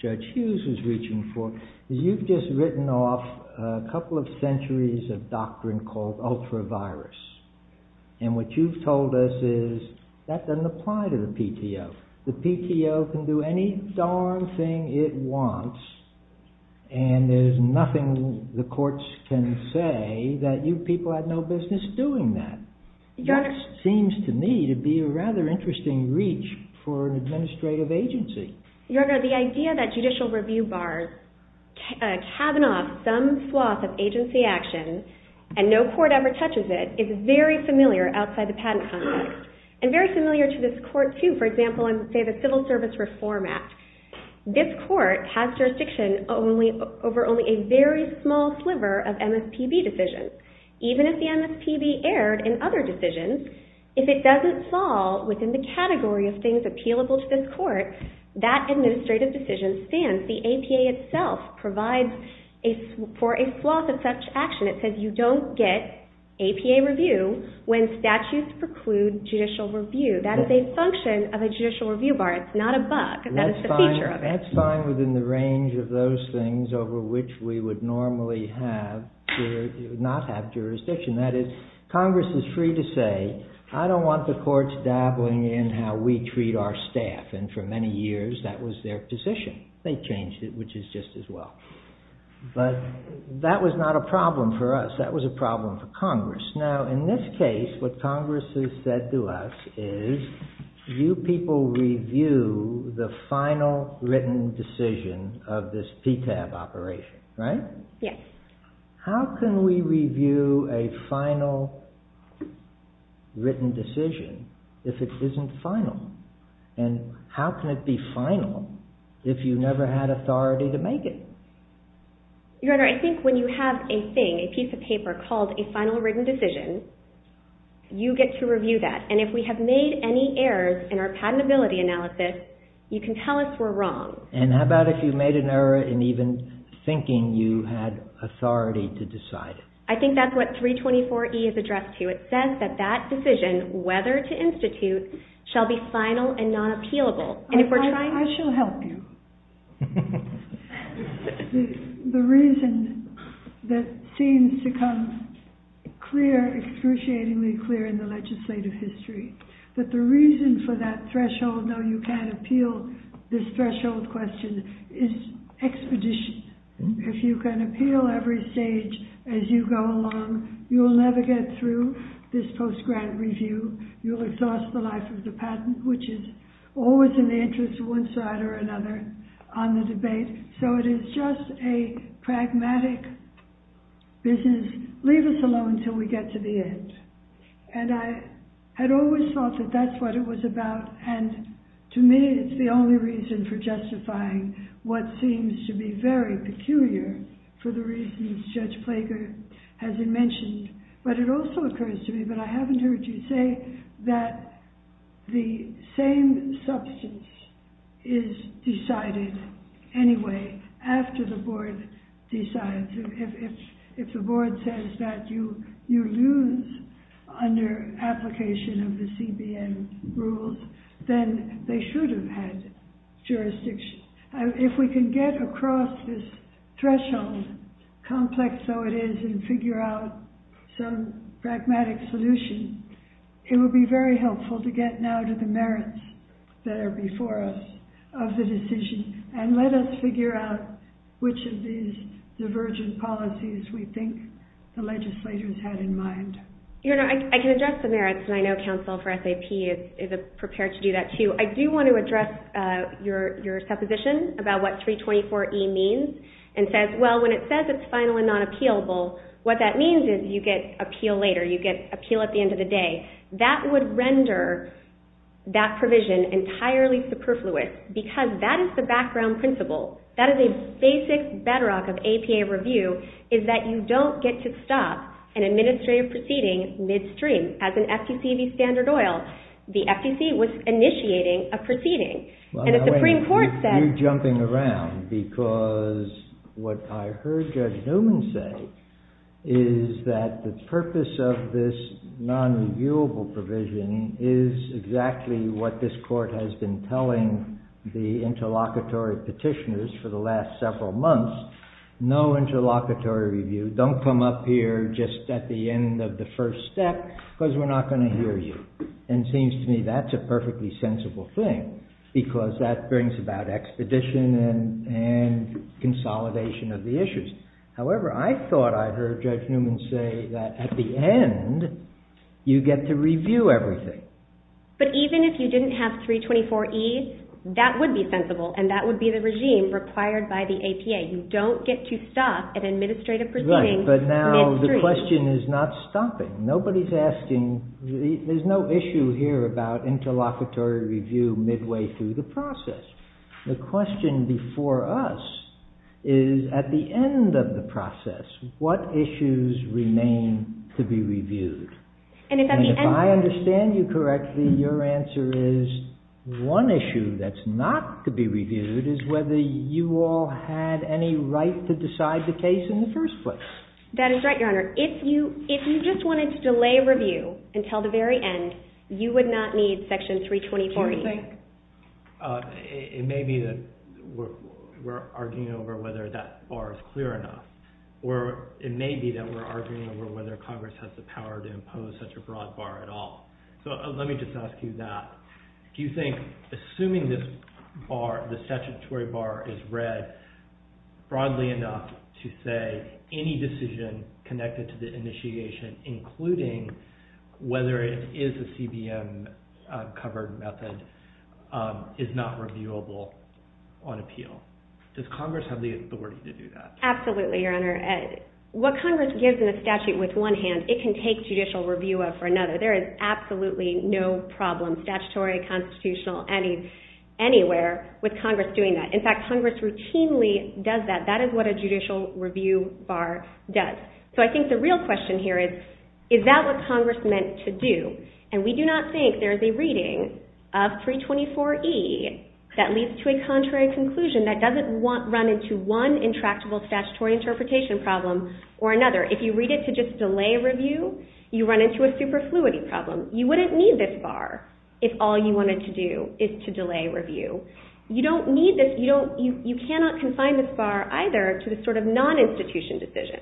Judge Hughes is reaching for is you've just written off a couple of centuries of doctrine called ultra-virus. And what you've told us is that doesn't apply to the PTO. The PTO can do any darn thing it wants and there's nothing the courts can say that you people have no business doing that. That seems to me to be a rather interesting reach for an administrative agency. Your Honor, the idea that judicial review bars cabin off some swath of agency action and no court ever touches it is very familiar outside the patent context and very familiar to this court too. For example, in the civil service reform act. This court has jurisdiction over only a very small sliver of MSPB decisions. Even if the MSPB erred in other decisions, if it doesn't fall within the category of things appealable to this court, that administrative decision stands. The APA itself provides for a swath of such action. It says you don't get APA review when statutes preclude judicial review. That is a function of a judicial review bar. It's not a bug. That's the feature of it. That's fine within the range of those things over which we would normally not have jurisdiction. That is, Congress is free to say, I don't want the courts dabbling in how we treat our staff. And for many years, that was their position. They changed it, which is just as well. But that was not a problem for us. That was a problem for Congress. Now, in this case, what Congress has said to us is you people review the final written decision of this PTAB operation, right? Yes. How can we review a final written decision if it isn't final? And how can it be final if you never had authority to make it? Your Honor, I think when you have a thing, a piece of paper called a final written decision, you get to review that. And if we have made any errors in our patentability analysis, And how about if you've made an error in even thinking you had authority to decide? I think that's what 324E is addressed to. It says that that decision, whether to institute, shall be final and not appealable. I shall help you. The reason that seems to come clear, excruciatingly clear in the legislative history, that the reason for that threshold, no, you can't appeal this threshold question, is expeditious. If you can appeal every stage as you go along, you'll never get through this post-grant review. You'll exhaust the life of the patent, which is always an interest to one side or another on the debate. So it is just a pragmatic business, leave us alone until we get to the end. And I had always thought that that's what it was about. And to me, it's the only reason for justifying what seems to be very peculiar for the reasons Judge Plager has mentioned. But it also occurs to me, but I haven't heard you say, that the same substance is decided anyway after the board decides. If the board says that you lose under application of the CBM rules, then they should have had jurisdiction. If we can get across this threshold, complex though it is, and figure out some pragmatic solution, it would be very helpful to get now to the merits that are before us of the decision. And let us figure out which of these divergent policies we think the legislators had in mind. I can address the merits. And I know counsel for SAP is prepared to do that too. I do want to address your supposition about what 324E means. And says, well, when it says it's final and not appealable, what that means is you get appeal later. You get appeal at the end of the day. That would render that provision entirely superfluous. Because that is the background principle. That is a basic bedrock of APA review, is that you don't get to stop an administrative proceeding midstream. As in FTC v. Standard Oil, the FTC was initiating a proceeding. And if the Supreme Court said- I'm jumping around. Because what I heard Judge Newman say is that the purpose of this non-reviewable provision is exactly what this court has been telling the interlocutory petitioners for the last several months. No interlocutory review. Don't come up here just at the end of the first step. Because we're not going to hear you. And it seems to me that's a perfectly sensible thing. Because that brings about expedition and consolidation of the issues. However, I thought I heard Judge Newman say that at the end, you get to review everything. But even if you didn't have 324E, that would be sensible. And that would be the regime required by the APA. You don't get to stop an administrative proceeding midstream. But now the question is not stopping. There's no issue here about interlocutory review midway through the process. The question before us is at the end of the process, what issues remain to be reviewed? And if I understand you correctly, your answer is one issue that's not to be reviewed is whether you all had any right to decide the case in the first place. That is right, Your Honor. If you just wanted to delay review until the very end, you would not need section 324E. It may be that we're arguing over whether that bar is clear enough. Or it may be that we're arguing over whether Congress has the power to impose such a broad bar at all. So let me just ask you that. Do you think assuming this bar, the statutory bar, is read broadly enough to say any decision connected to the initiation, including whether it is a CBM covered method, is not reviewable on appeal? Does Congress have the authority to do that? Absolutely, Your Honor. What Congress gives in the statute with one hand, it can take judicial review for another. There is absolutely no problem, statutory, constitutional, anywhere with Congress doing that. In fact, Congress routinely does that. That is what a judicial review bar does. So I think the real question here is, is that what Congress meant to do? And we do not think there's a reading of 324E that leads to a contrary conclusion that doesn't run into one intractable statutory interpretation problem or another. If you read it to just delay review, you run into a superfluity problem. You wouldn't need this bar if all you wanted to do is to delay review. You cannot confine this bar either to the sort of non-institution decision.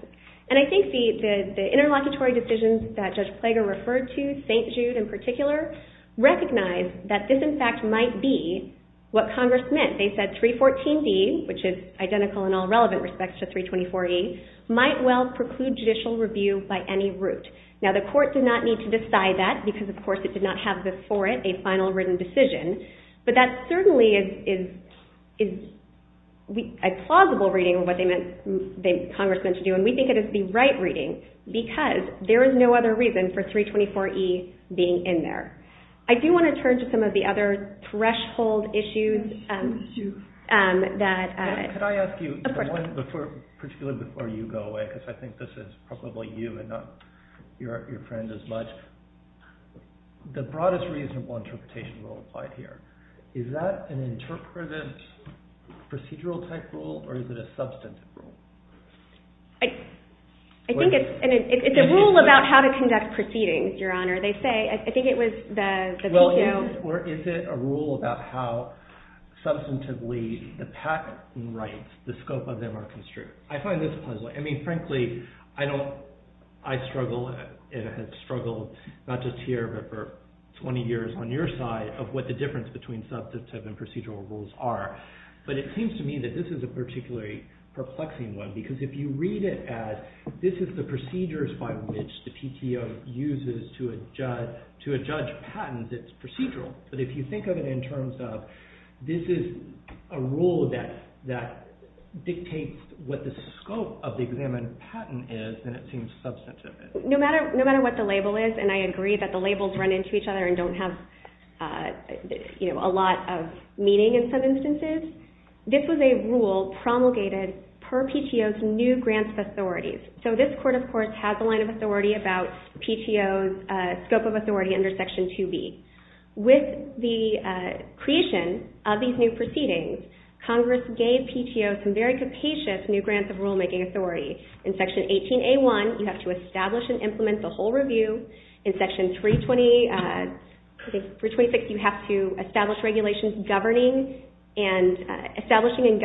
And I think the interlocutory decisions that Judge Plago referred to, St. Jude in particular, recognize that this, in fact, might be what Congress meant. They said 314B, which is identical in all relevant respects to 324E, might well preclude judicial review by any route. Now, the court did not need to decide that, because of course it did not have before it a final written decision. But that certainly is a plausible reading of what Congress meant to do. And we think it is the right reading, because there is no other reason for 324E being in there. I do want to turn to some of the other threshold issues that Could I ask you, particularly before you go away, because I think this is probably you and not your friend as much. The broadest reasonable interpretation will apply here. Is that an interpretative procedural-type rule, or is it a substantive rule? I think it's a rule about how to conduct proceedings, Your Honor. They say, I think it was the two. Well, is it a rule about how substantively the patent rights, the scope of them are construed? I find this puzzling. I mean, frankly, I struggle, and have struggled not just here, but for 20 years on your side, of what the difference between substantive and procedural rules are. But it seems to me that this is a particularly perplexing one. Because if you read it as, this is the procedures by which the PTO uses to adjudge patents, it's procedural. But if you think of it in terms of, this is a rule that dictates what the scope of the examinative patent is, then it seems substantive. No matter what the label is, and I agree that the labels run into each other and don't have a lot of meaning in some instances, this was a rule promulgated per PTO's new grants authorities. So this court, of course, has a line of authority about PTO's scope of authority under Section 2B. With the creation of these new proceedings, Congress gave PTO some very capacious new grants of rulemaking authority. In Section 18A1, you have to establish and implement the whole review. In Section 326, you have to establish regulations governing and establishing and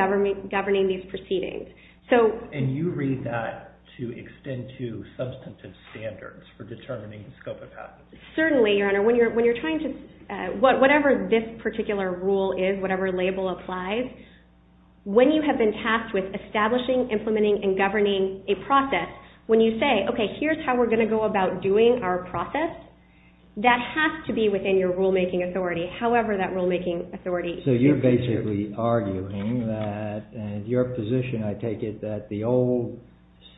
governing these proceedings. And you read that to extend to substantive standards for determining the scope of patent. Certainly, Your Honor. Whatever this particular rule is, whatever label applies, when you have been tasked with establishing, implementing, and governing a process, when you say, OK, here's how we're going to go about doing our process, that has to be within your rulemaking authority, however that rulemaking authority is. So you're basically arguing that, and your position, I take it, that the old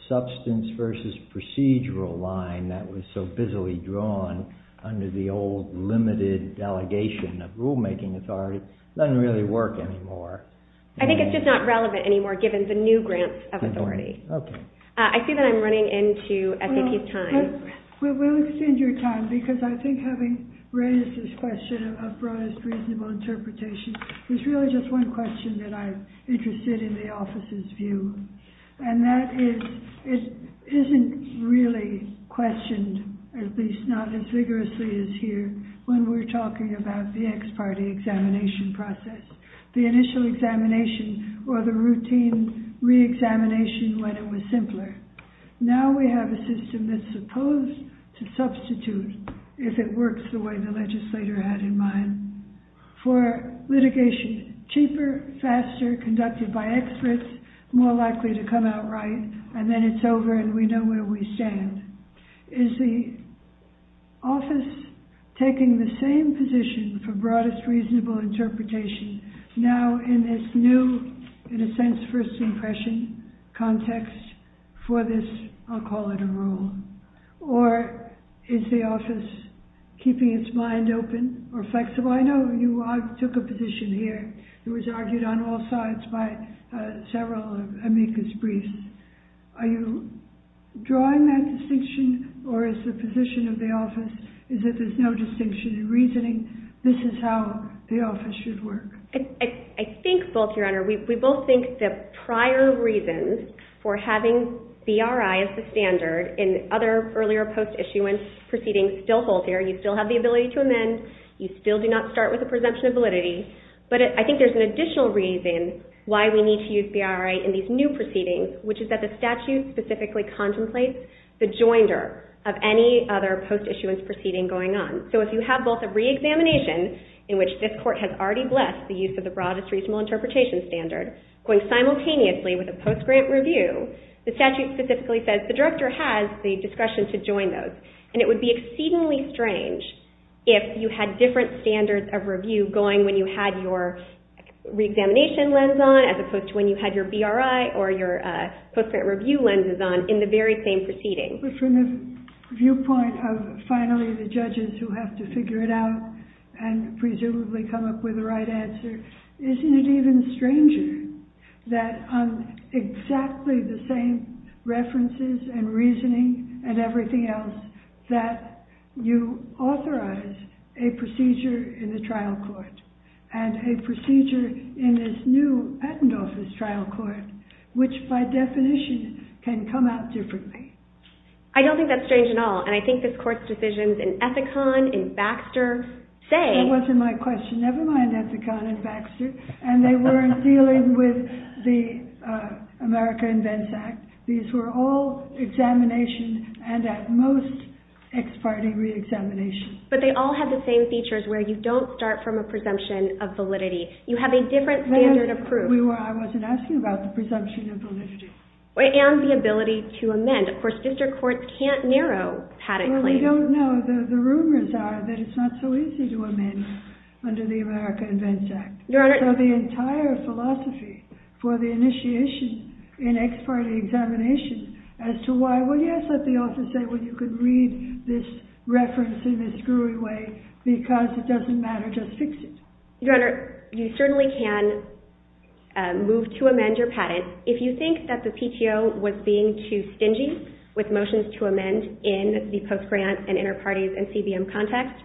substance versus procedural line that was so busily drawn under the old limited delegation of rulemaking authority doesn't really work anymore. I think it's just not relevant anymore, given the new grants of authority. I see that I'm running into FEP time. Well, we'll extend your time, because I think having raised this question of broadest reasonable interpretation, there's really just one question that I'm interested in the office's view. And that is, it isn't really questioned, at least not as vigorously as here, when we're talking about the ex-party examination process. The initial examination, or the routine re-examination, when it was simpler. Now we have a system that's supposed to substitute if it works the way the legislator had in mind. For litigation, cheaper, faster, conducted by experts, more likely to come out right. And then it's over, and we know where we stand. Is the office taking the same position for broadest reasonable interpretation, now in this new, in a sense, first impression context for this, I'll call it a rule? Or is the office keeping its mind open or flexible? I know you took a position here. It was argued on all sides by several amicus briefs. Are you drawing that distinction? Or is the position of the office is that there's no distinction in reasoning? This is how the office should work. I think both, Your Honor. We both think that prior reasons for having BRI as the standard in other earlier post-issuance proceedings still hold here. You still have the ability to amend. You still do not start with a presumption of validity. But I think there's an additional reason why we need to use BRI in these new proceedings, which is that the statute specifically contemplates the joinder of any other post-issuance proceeding going on. So if you have both a re-examination, in which this court has already blessed the use of the broadest reasonable interpretation standard, going simultaneously with a post-grant review, the statute specifically says, the director has the discretion to join those. And it would be exceedingly strange if you had different standards of review going when you had your re-examination lens on, as opposed to when you had your BRI or your post-grant review lenses on in the very same proceeding. But from the viewpoint of, finally, the judges who have to figure it out and presumably come up with the right answer, isn't it even stranger that on exactly the same references and reasoning and everything else that you authorize a procedure in the trial court and a procedure in this new patent office trial court, which, by definition, can come out differently? I don't think that's strange at all. And I think this court's decisions in Ethicon, in Baxter, say- That wasn't my question. Never mind Ethicon and Baxter. And they weren't dealing with the America Invents Act. These were all examinations and, at most, ex parte re-examination. But they all have the same features, where you don't start from a presumption of validity. You have a different standard of proof. I wasn't asking about the presumption of validity. And the ability to amend. Of course, sister courts can't narrow patent claims. Well, we don't know. The rumors are that it's not so easy to amend under the America Invents Act. So the entire philosophy for the initiation in ex parte examination as to why, well, yes, let the author say, well, you could read this reference in a screwy way, because it doesn't matter. Just fix it. Your Honor, you certainly can move to amend your patent. If you think that the PTO was being too stingy with motions to amend in the post-grant and inter-parties NCBM context,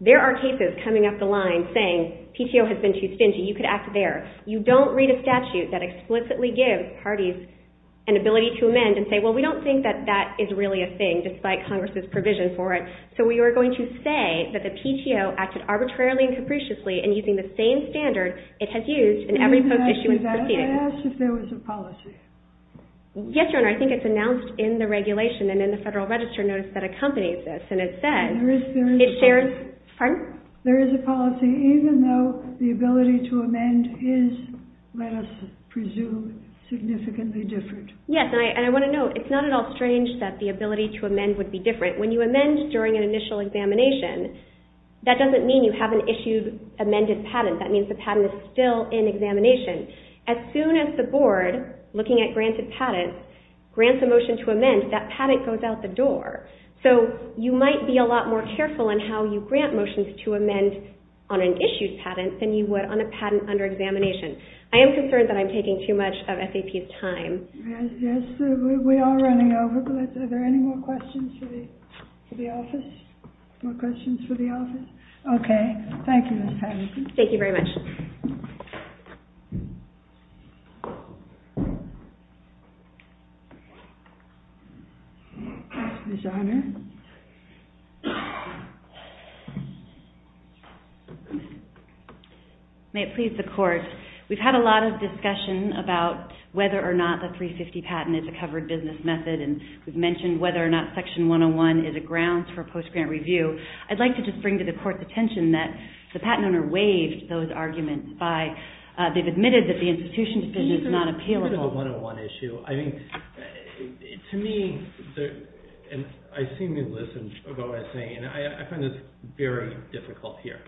there are cases coming up the line saying, PTO has been too stingy. You could act there. You don't read a statute that explicitly gives parties we don't think that that is really a thing, despite Congress's provision for it. So we are going to say that the PTO acted arbitrarily and capriciously in using the same standard it has used in every post-issue and proceeding. I asked if there was a policy. Yes, Your Honor. I think it's announced in the regulation and in the Federal Register notice that accompanies this. And it says, there is a policy, even though the ability to amend is, let us presume, significantly different. Yes, and I want to note, it's not at all strange that the ability to amend would be different. When you amend during an initial examination, that doesn't mean you have an issued amended patent. That means the patent is still in examination. As soon as the board, looking at granted patents, grants a motion to amend, that patent goes out the door. So you might be a lot more careful in how you grant motions to amend on an issued patent than you would on a patent under examination. I am concerned that I'm taking too much of SAP's time. We are running over, but are there any more questions for the office? More questions for the office? OK. Thank you, Ms. Patterson. Thank you very much. May it please the Court. We've had a lot of discussion about whether or not the 350 patent is a covered business method. And we've mentioned whether or not section 101 is a ground for post-grant review. I'd like to just bring to the Court's attention that the patent owner waived those arguments by, they've admitted that the institution decision is not appealable. This is a 101 issue. I think, to me, I seem to listen to what I'm saying. And I find this very difficult here.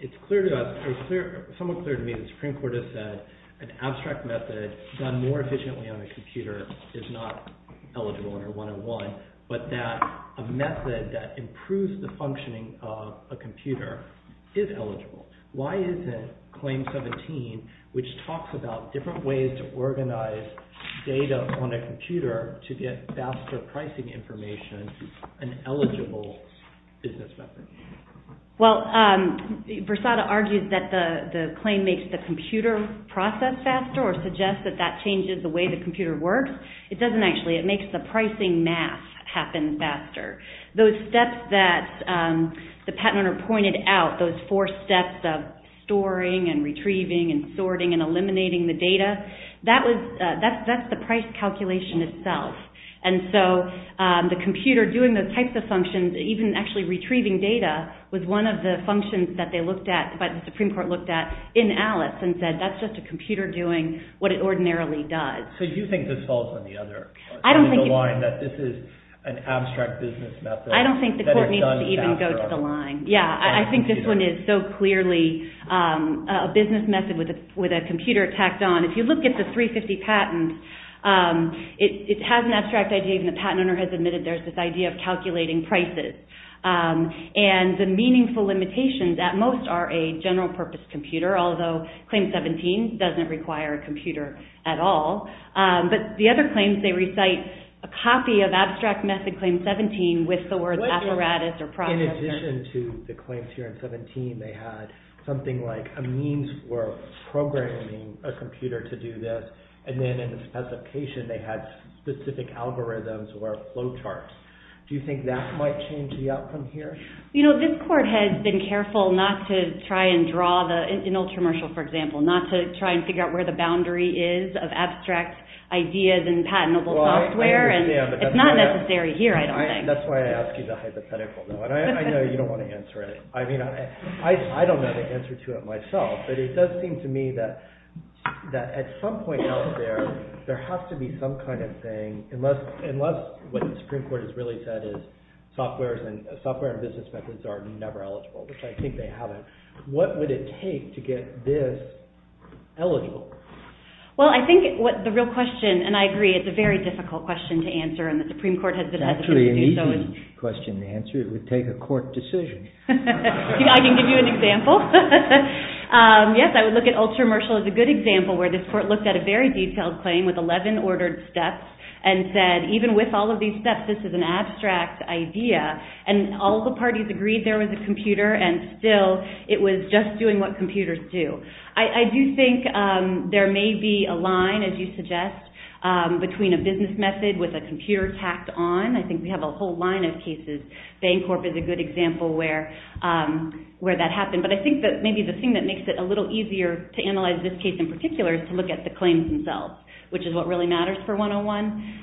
It's clear to us, or somewhat clear to me, the Supreme Court has said an abstract method done more efficiently on a computer is not eligible under 101. But that a method that improves the functioning of a computer is eligible. Why isn't Claim 17, which talks about different ways to organize data on a computer to get faster pricing information, an eligible business method? Well, Versata argues that the claim makes the computer process faster, or suggests that that changes the way the computer works. It doesn't actually. It makes the pricing math happen faster. Those steps that the patent owner pointed out, those four steps of storing, and retrieving, and sorting, and eliminating the data, that's the price calculation itself. And so the computer doing those types of functions, even actually retrieving data, was one of the functions that they looked at, that the Supreme Court looked at, in Alice, and said, that's just a computer doing what it ordinarily does. So you think this falls on the other line, that this is an abstract business method? I don't think the court needs to even go to the line. Yeah, I think this one is so clearly a business method with a computer tacked on. If you look at the 350 patents, it has an abstract idea, and the patent owner has admitted there's this idea of calculating prices. And the meaningful limitations, at most, are a general-purpose computer, although Claim 17 doesn't require a computer at all. But the other claims, they recite a copy of abstract method Claim 17 with the words apparatus or project. In addition to the claims here in 17, they had something like a means for programming a computer to do this. And then, as a patient, they had specific algorithms or flowcharts. Do you think that might change the outcome here? You know, this court has been careful not to try and draw the, in ultra-martial, for example, not to try and figure out where the boundary is of abstract ideas in patentable software. It's not necessary here, I don't think. That's why I asked you the hypothetical. I know you don't want to answer it. I don't know the answer to it myself. But it does seem to me that, at some point out there, there has to be some kind of thing, unless what the Supreme Court has really said is software and business methods are never eligible, which I think they haven't. What would it take to get this eligible? Well, I think what the real question, and I agree, it's a very difficult question to answer. And the Supreme Court has decided to do so. It's actually an easy question to answer. It would take a court decision. I can give you an example. Yes, I would look at ultra-martial as a good example, where this court looked at a very detailed claim with 11 ordered steps and said, even with all of these steps, this is an abstract idea. And all the parties agreed there was a computer. And still, it was just doing what computers do. I do think there may be a line, as you suggest, between a business method with a computer tacked on. I think we have a whole line of cases. Bancorp is a good example where that happened. But I think that maybe the thing that makes it a little easier to analyze this case in particular is to look at the claims themselves, which is what really matters for 101.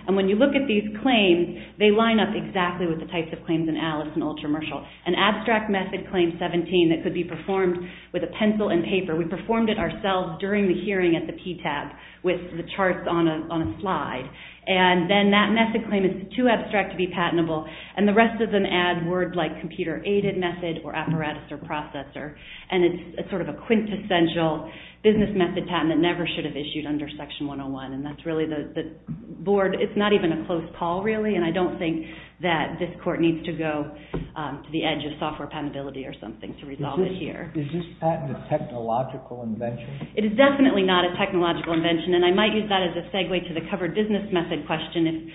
And when you look at these claims, they line up exactly with the types of claims in Alice and ultra-martial. An abstract method claim 17 that could be performed with a pencil and paper. We performed it ourselves during the hearing at the PTAB with the charts on a slide. And then that method claim is too abstract to be patentable. And the rest of them add words like computer-aided method or apparatus or processor. And it's sort of a quintessential business method patent that never should have issued under Section 101. And that's really the board. It's not even a close call, really. And I don't think that this court needs to go to the edge of software penability or something to resolve it here. Is this patent a technological invention? It is definitely not a technological invention. And I might use that as a segue to the covered business method question,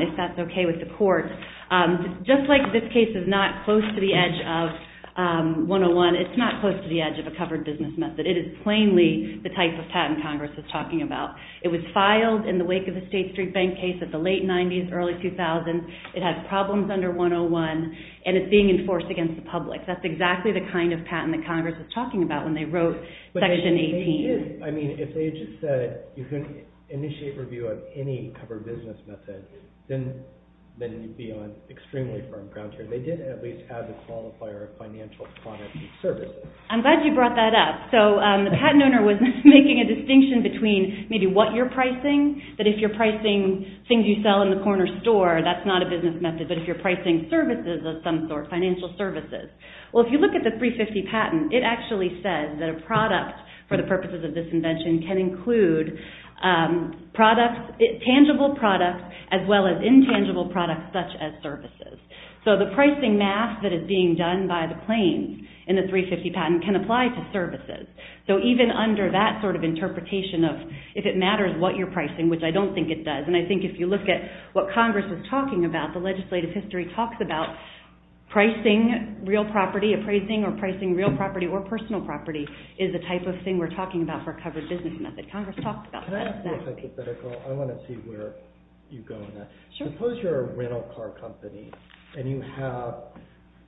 if that's OK with the court. Just like this case is not close to the edge of 101, it's not close to the edge of a covered business method. It is plainly the type of patent Congress is talking about. It was filed in the wake of the State Street Bank case at the late 90s, early 2000s. It has problems under 101. And it's being enforced against the public. That's exactly the kind of patent that Congress was talking about when they wrote Section 18. I mean, if they just said, you're going to initiate review of any covered business method, then you'd be on extremely firm ground here. They did at least add the qualifier of financial product and service. I'm glad you brought that up. So the patent owner was making a distinction between maybe what you're pricing, but if you're pricing things you sell in the corner store, that's not a business method. But if you're pricing services of some sort, financial services, well, if you look at the 350 patent, it actually says that a product, for the purposes of this invention, can include tangible products as well as intangible products such as services. So the pricing math that is being done by the claims in the 350 patent can apply to services. So even under that sort of interpretation of if it matters what you're pricing, which I don't think it does. And I think if you look at what Congress is talking about, the legislative history talks about pricing real property, appraising or pricing real property or personal property is the type of thing we're talking about for a covered business method. Congress talks about that. Can I ask you a hypothetical? I want to see where you go here. Sure. Suppose you're a rental car company and you have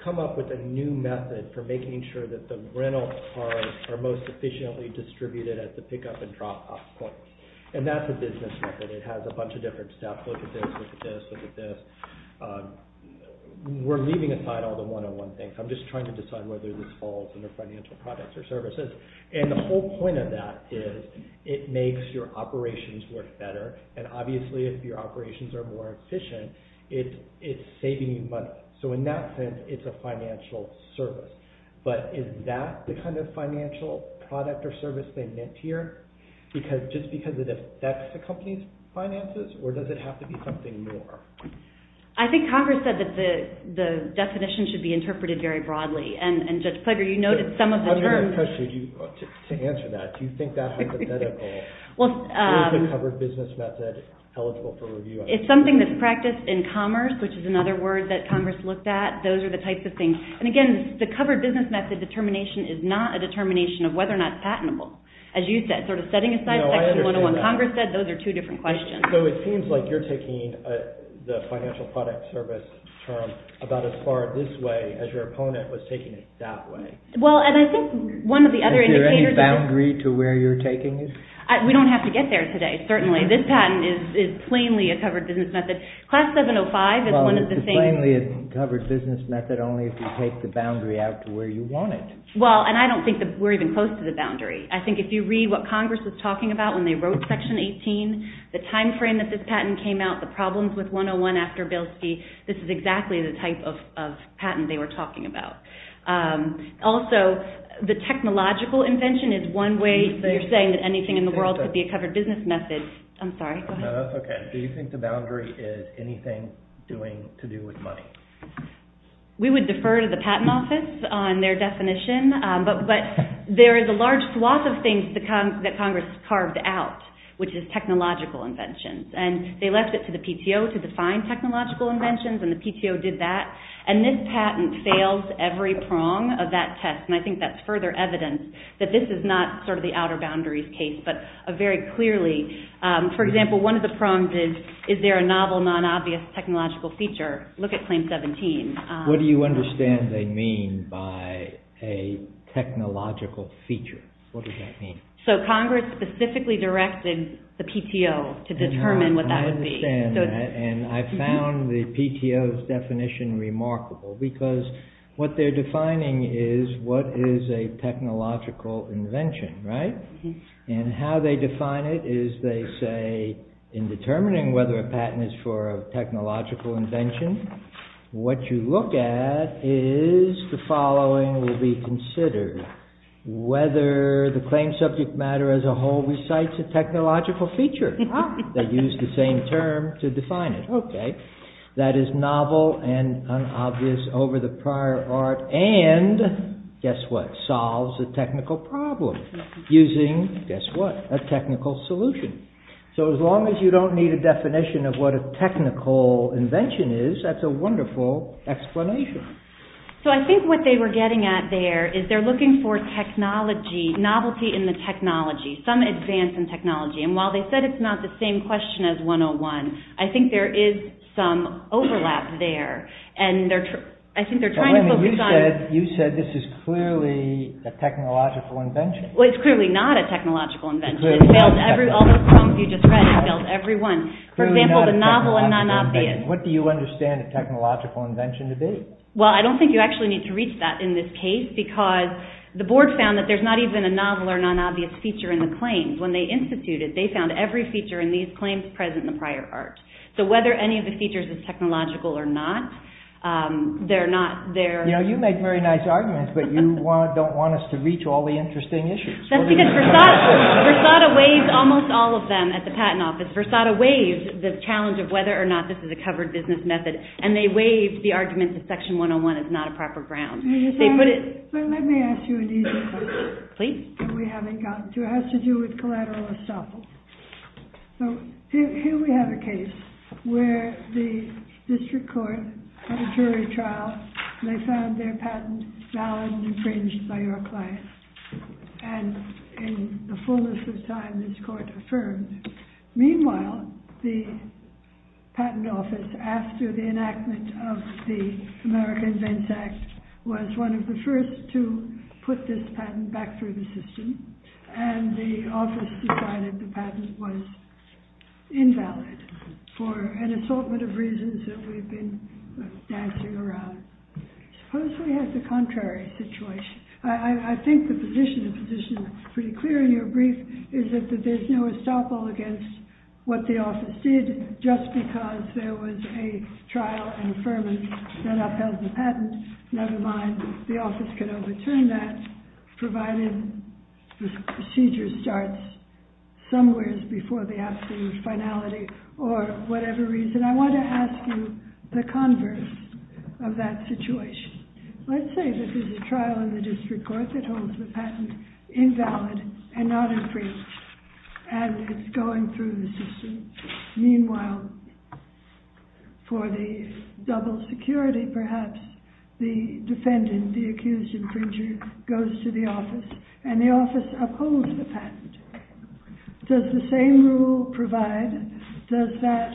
come up with a new method for making sure that the rental cars are most efficiently distributed at the pick-up and drop-off point. And that's a business method. It has a bunch of different steps. Look at this, look at this, look at this. We're leaving aside all the one-on-one things. I'm just trying to decide whether we fall from the financial products or services. And the whole point of that is it makes your operations work better. And obviously, if your operations are more efficient, it's saving you money. So in that sense, it's a financial service. But is that the kind of financial product or service they meant here? Just because it affects the company's finances or does it have to be something more? I think Congress said that the definition should be interpreted very broadly. And Judge Ploeger, you noted some of the terms. I have a question to answer that. Do you think that hypothetical is a covered business method eligible for review? It's something that's practiced in commerce, which is another word that Congress looked at. Those are the types of things. And again, the covered business method determination is not a determination of whether or not it's patentable, as you said. Sort of setting aside what Congress said, those are two different questions. So it seems like you're taking the financial product service from about as far this way as your opponent was taking it that way. Well, and I think one of the other indicators is Do you have any boundary to where you're taking this? We don't have to get there today, certainly. This patent is plainly a covered business method. Class 705 is one of the same. It's plainly a covered business method only if you take the boundary out to where you want it. Well, and I don't think that we're even close to the boundary. I think if you read what Congress was talking about when they wrote Section 18, the time frame that this patent came out, the problems with 101 after Bilski, this is exactly the type of patent they were talking about. Also, the technological invention is one way. So you're saying that anything in the world could be a covered business method. I'm sorry, go ahead. No, that's OK. So you think the boundary is anything to do with money? We would defer to the Patent Office on their definition. But there is a large swath of things that Congress carved out, which is technological inventions. And they left it to the PTO to define technological inventions. And the PTO did that. And this patent fails every prong of that test. And I think that's further evidence that this is not the outer boundaries case, but very clearly. For example, one of the prongs is, is there a novel, non-obvious technological feature? Look at Claim 17. What do you understand they mean by a technological feature? What does that mean? So Congress specifically directed the PTO to determine what that would be. I understand that. And I found the PTO's definition remarkable. Because what they're defining is, what is a technological invention, right? And how they define it is they say, in determining whether a patent is for a technological invention, what you look at is the following will be considered. Whether the claim subject matter as a whole recites a technological feature. They use the same term to define it. That is novel and unobvious over the prior art. And guess what? Solves a technical problem using, guess what? A technical solution. So as long as you don't need a definition of what a technical invention is, that's a wonderful explanation. So I think what they were getting at there is they're looking for technology, novelty in the technology. Some advance in technology. And while they said it's not the same question as 101, I think there is some overlap there. I think they're trying to focus on it. You said this is clearly a technological invention. Well, it's clearly not a technological invention. It fails all those problems you just read. It fails every one. For example, the novel and non-obvious. What do you understand a technological invention to be? Well, I don't think you actually need to reach that in this case. Because the board found that there's not even a novel or non-obvious feature in the claims. When they instituted it, they found every feature in these claims present in the prior art. So whether any of the features is technological or not, they're not there. You know, you make very nice arguments. But you don't want us to reach all the interesting issues. That's because Versada waived almost all of them at the patent office. Versada waived the challenge of whether or not this is a covered business method. And they waived the argument that section 101 is not a proper ground. Let me ask you an easy question. Please. It has to do with collateral assault. So here we have a case where the district court in a jury trial, they found their patent valid and infringed by our client. And in the fullness of time, this court affirmed. Meanwhile, the patent office, after the enactment of the American Invents Act, was one of the first to put this patent back through the system. And the office decided the patent was invalid for an assortment of reasons that we've been dancing around. Suppose we have the contrary situation. I think the position is pretty clear in your brief, is that there's no estoppel against what the office did just because there was a trial and affirmance set up as a patent. Never mind, the office could overturn that, provided the procedure starts somewhere before the absolute finality or whatever reason. I want to ask you the converse of that situation. Let's say this is a trial in the district court that holds the patent invalid and not infringed as it's going through the system. Meanwhile, for the double security, perhaps, the defendant, the accused infringer, goes to the office. And the office upholds the patent. Does the same rule provide, does that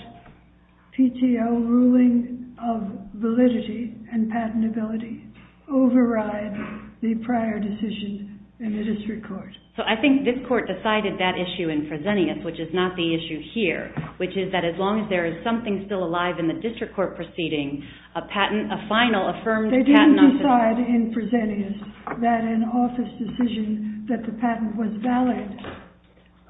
PTO ruling of validity and patentability override the prior decision in the district court? So I think this court decided that issue in presenting it, which is not the issue here, which is that as long as there is something still alive in the district court proceeding, a patent, a final, affirmed patent office. They didn't decide in presenting it that an office decision that the patent was valid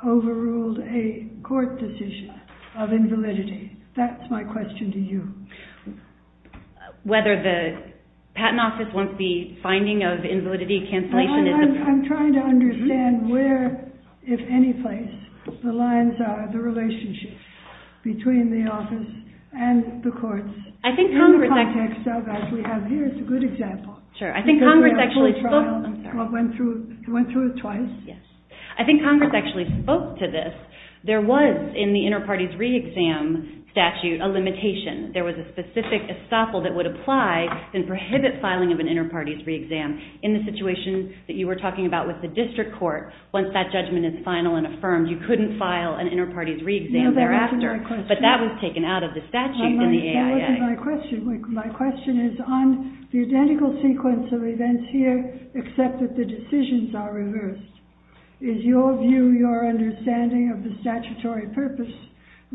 overruled a court decision of invalidity. That's my question to you. Whether the patent office won't be finding of invalidity cancellation is a problem. I'm trying to understand where, if any place, the lines are, the relationship between the office and the courts. I think Congress actually spoke to this. There was, in the inter-parties re-exam statute, a limitation. There was a specific estoppel that would apply and prohibit filing of an inter-parties re-exam. In the situation that you were talking about with the district court, once that judgment is final and affirmed, you couldn't file an inter-parties re-exam thereafter. But that was taken out of the statute. My question is on the identical sequence of events here, except that the decisions are reversed. Is your view, your understanding of the statutory purpose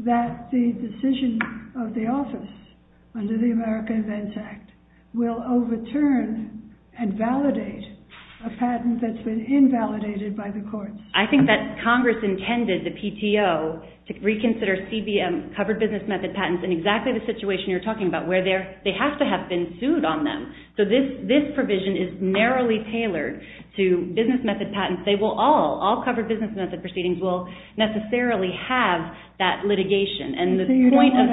that the decision of the office under the American Events Act will overturn and validate a patent that's been invalidated by the courts? I think that Congress intended the PTO to reconsider CBM, covered business method patents, in exactly the situation you're talking about, where they have to have been sued on them. So this provision is narrowly tailored to business method patents. They will all, all covered business method proceedings, will necessarily have that litigation. And the point of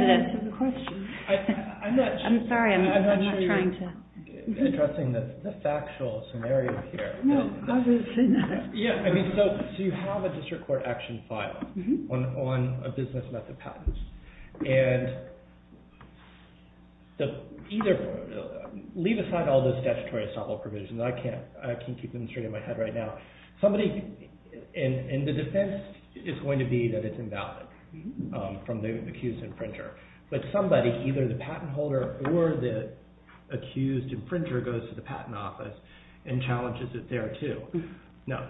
the question. I'm sorry. I'm not trying to. I'm addressing the factual scenario here. No, other scenarios. Yeah, I mean, so you have a district court action file on a business method patent. And either, leave aside all this statutory estoppel provision. I can't keep it in my head right now. Somebody, and the defense is going to be that it's invalid from the accused infringer. But somebody, either the patent holder or the accused infringer goes to the patent office and challenges it there too. No.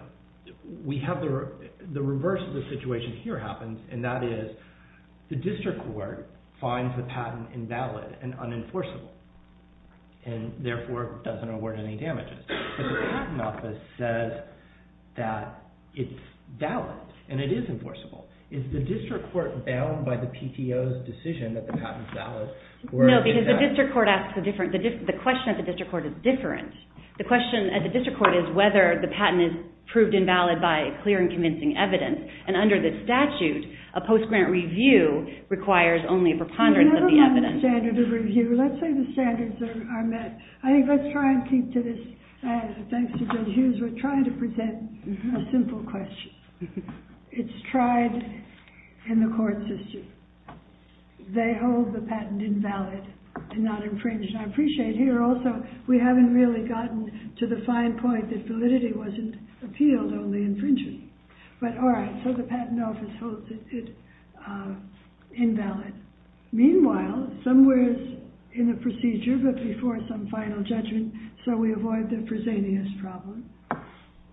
We have the reverse of the situation here happen. And that is, the district court finds the patent invalid and unenforceable. And therefore, doesn't award any damages. But the patent office says that it's valid. And it is enforceable. Is the district court bound by the PTO's decision that the patent's valid? No, because the district court asks a different. The question at the district court is different. The question at the district court is whether the patent is proved invalid by clear and convincing evidence. And under this statute, a post-grant review requires only a preponderance of evidence. There's never been a standard of review. Let's say the standards are met. I think let's try and keep this as a thanks to Bill Hughes. We're trying to present a simple question. It's tried in the court system. They hold the patent invalid and not infringed. And I appreciate here also, we haven't really gotten to the fine point that validity wasn't appealed, only infringement. But all right, so the patent office holds it invalid. Meanwhile, somewhere in the procedure, but before some final judgment, so we avoid the prosaenius problem.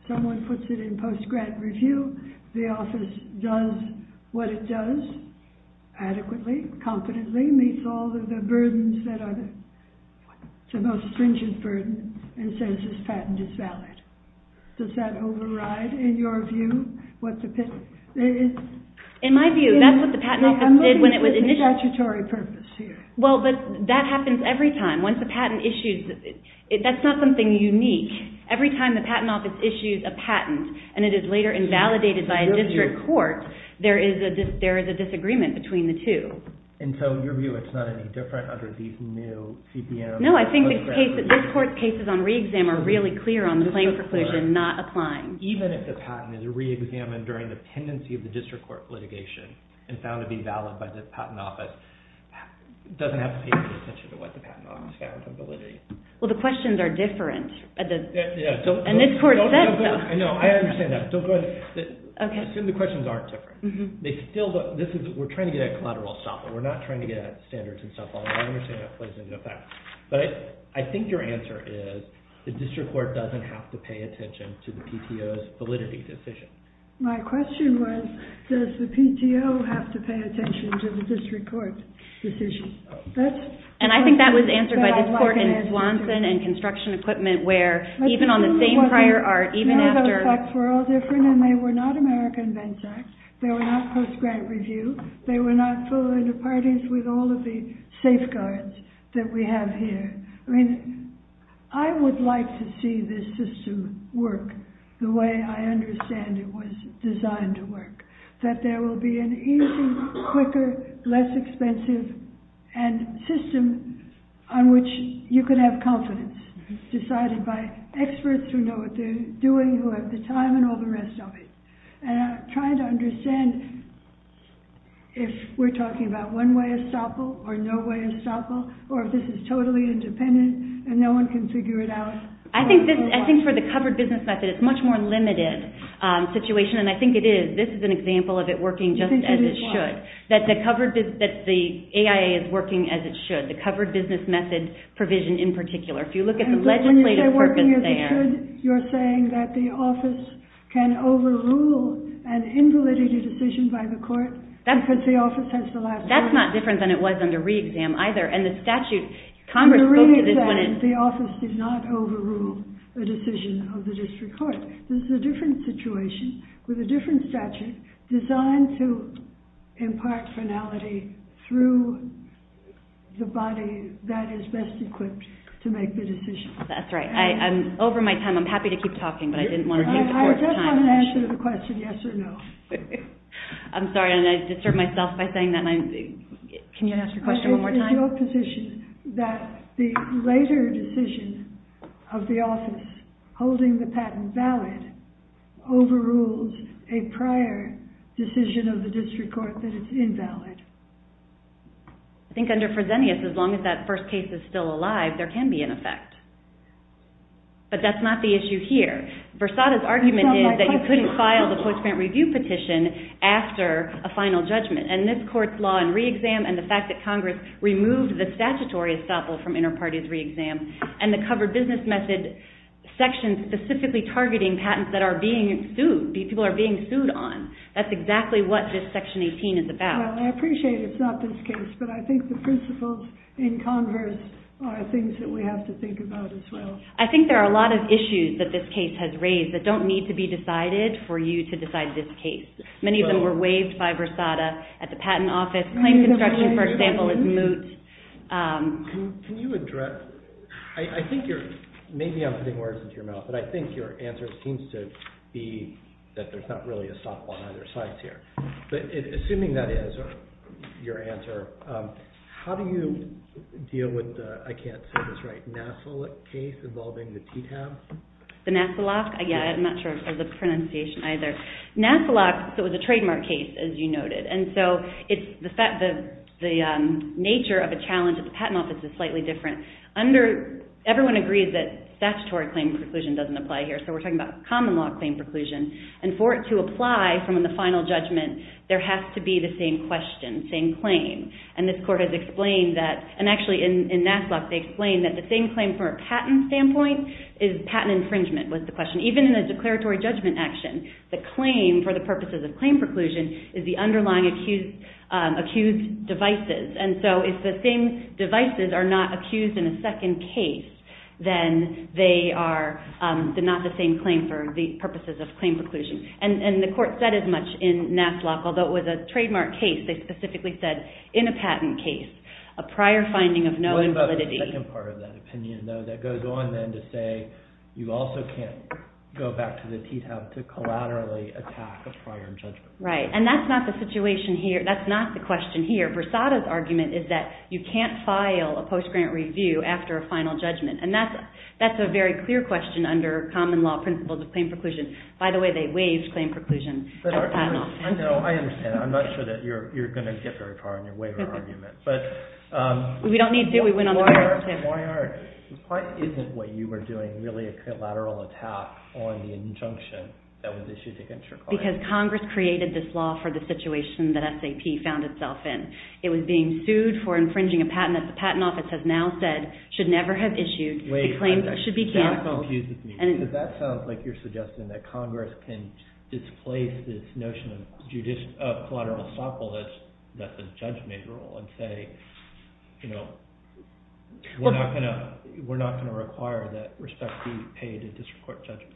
Someone puts it in post-grant review. The office does what it does adequately, confidently, meets all of the burdens that are the most stringent burden and says this patent is valid. Does that override, in your view, what the patent is? In my view, that's what the patent office did when it was initiated. The statutory purpose here. Well, that happens every time. Once the patent issues, that's not something unique. Every time the patent office issues a patent and it is later invalidated by a district court, there is a disagreement between the two. And so, in your view, it's not any different under the new CPM? No, I think this court's cases on re-exam are really clear on the claim perquisition not applying. Even if the patent is re-examined during the pendency of the district court litigation, it's bound to be valid by the patent office. It doesn't have to be in the statute of what the patent office has in validity. Well, the questions are different. And this court said so. I understand that. I assume the questions aren't different. We're trying to get at collateral stopping. We're not trying to get at standards and stuff. Although, I understand that plays into that. But I think your answer is the district court doesn't have to pay attention to the PTO's validity decision. My question was, does the PTO have to pay attention to the district court's decision? And I think that was answered by this court in Swanson and construction equipment, where even on the same prior art, even after- I think the effects were all different. And they were not American Vents Act. They were not post-grant review. They were not filling the parties with all of the safeguards that we have here. I mean, I would like to see this system work the way I understand it was designed to work, that there will be an easier, quicker, less expensive system on which you can have confidence. It's decided by experts who know what they're doing, who have the time, and all the rest of it. And I'm trying to understand if we're talking about one-way estoppel or no-way estoppel, or if this is totally independent and no one can figure it out. I think for the covered business method, it's a much more limited situation. And I think it is. This is an example of it working just as it should. That the AIA is working as it should. The covered business method provision, in particular. If you look at the legislative purpose there- You're saying that the office can overrule and invalidate a decision by the court because the office has the last word? That's not different than it was under re-exam either. Under re-exam, the office did not overrule the decision of the district court. This is a different situation, with a different statute, designed to impart finality through the body that is best equipped to make the decision. That's right. Over my time, I'm happy to keep talking, but I didn't want to take too much time. I just want to answer the question, yes or no. I'm sorry, I disturbed myself by saying that. Can you ask the question one more time? I think there's no position that the later decision of the office holding the patent valid overrules a prior decision of the district court that it's invalid. I think under Fresenius, as long as that first case is still alive, there can be an effect. But that's not the issue here. Versada's argument is that you couldn't file the post-grant review petition after a final judgment. This court's law in re-exam and the fact that Congress removed the statutory estoppel from inter-parties re-exam and the cover business method section specifically targeting patents that are being sued, these people are being sued on. That's exactly what this section 18 is about. Well, I appreciate it's not this case, but I think the principles in Congress are things that we have to think about as well. I think there are a lot of issues that this case has raised that don't need to be decided for you to decide this case. Many of them were waived by Versada at the patent office. Claim construction, for example, is moot. Can you address... I think you're... Maybe I'm putting words into your mouth, but I think your answer seems to be that there's not really a stop on either side here. But assuming that is your answer, how do you deal with the... I can't say this right... Nassel case involving the TTAF? The Nasselak? I'm not sure I said the pronunciation either. Nasselak was a trademark case, as you noted. The nature of the challenge at the patent office is slightly different. Everyone agrees that statutory claim preclusion doesn't apply here, so we're talking about common law claim preclusion. And for it to apply from the final judgment, there has to be the same question, same claim. And this court has explained that... And actually, in Nasselak, they explain that the same claim from a patent standpoint is patent infringement, was the question. Even in a declaratory judgment action, the claim for the purposes of claim preclusion is the underlying accused devices. And so if the same devices are not accused in a second case, then they are not the same claim for the purposes of claim preclusion. And the court said as much in Nasselak, although it was a trademark case, they specifically said in a patent case, a prior finding of no invalidity... What about the second part of that opinion, though, that goes on then to say you also can't go back to the TTAF to collaterally attack a prior judgment? Right. And that's not the situation here. That's not the question here. Persada's argument is that you can't file a post-grant review after a final judgment. And that's a very clear question under common law principles of claim preclusion. By the way, they waived claim preclusion. I know, I understand. I'm not sure that you're going to get very far in your waiver argument. But... We don't need to. We went a long way. Why isn't what you were doing really a collateral attack on the injunction that was issued against your client? Because Congress created this law for the situation that SAP found itself in. It was being sued for infringing a patent that the patent office has now said should never have issued. It claims it should be canceled. Wait, that confuses me. Because that sounds like you're suggesting that Congress can displace this notion of judicial collateral assault that's a judgment rule and say, you know, we're not going to require that respect be paid in district court judgments.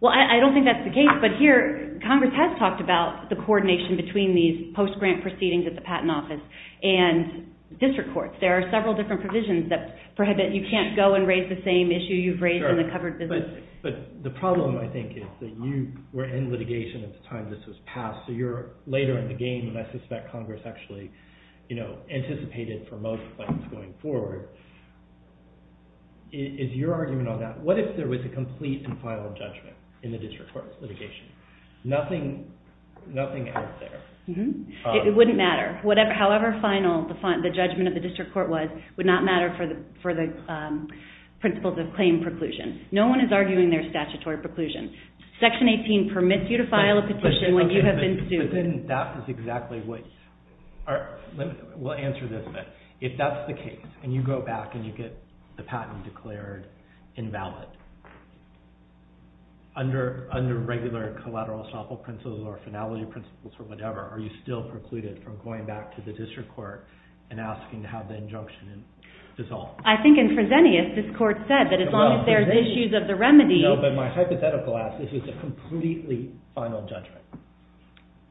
Well, I don't think that's the case. But here, Congress has talked about the coordination between these post-grant proceedings at the patent office and district courts. There are several different provisions that prohibit you can't go and raise the same issue you've raised in the covered business. But the problem, I think, is that you were in litigation at the time this was passed. So you're later in the game, and I suspect Congress actually, you know, anticipated for most funds going forward. Is your argument on that, what if there was a complete and final judgment in the district court litigation? Nothing out there. It wouldn't matter. However final the judgment of the district court was would not matter for the principles of claim preclusion. No one is arguing their statutory preclusion. Section 18 permits you to file a petition when you have been sued. That is exactly what, we'll answer this bit. If that's the case and you go back and you get the patent declared invalid. Under regular collateral estoppel principles or finality principles or whatever, are you still precluded from going back to the district court and asking to have the injunction dissolved? I think in Fresenius this court said that as long as there's issues of the remedy No, but my hypothetical answer is it's a completely final judgment.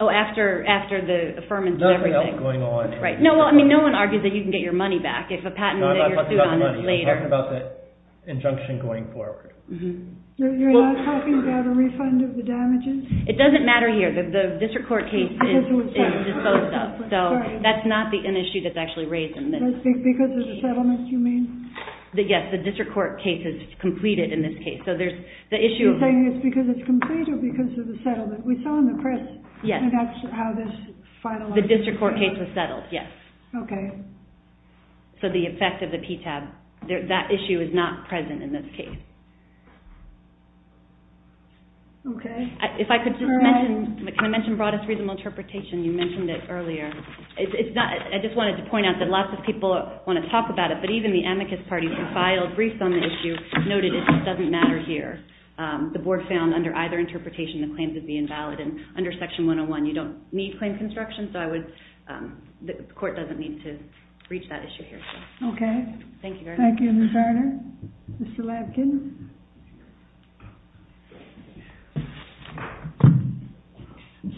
Oh, after the affirmative judgment. Nothing else is going on. No one argues that you can get your money back if a patent is issued on this later. I'm talking about the injunction going forward. You're not talking about a refund of the damages? It doesn't matter here. The district court case is disclosed though. So that's not an issue that's actually raised in this. Because of the settlement you mean? Yes, the district court case is completed in this case. So there's the issue. Are you saying it's because it's completed or because of the settlement? We saw in the press how this finalized. The district court case was settled, yes. Okay. So the effect of the PTAB. That issue is not present in this case. Okay. If I could just mention Can I mention broadest reasonable interpretation? You mentioned it earlier. I just wanted to point out that lots of people want to talk about it but even the amicus parties who filed briefs on the issue noted that it doesn't matter here. The board found under either interpretation the claims would be invalid and under Section 101 you don't need claim construction so the court doesn't need to reach that issue here. Okay. Thank you, Ms. Arner. Mr. Labkin.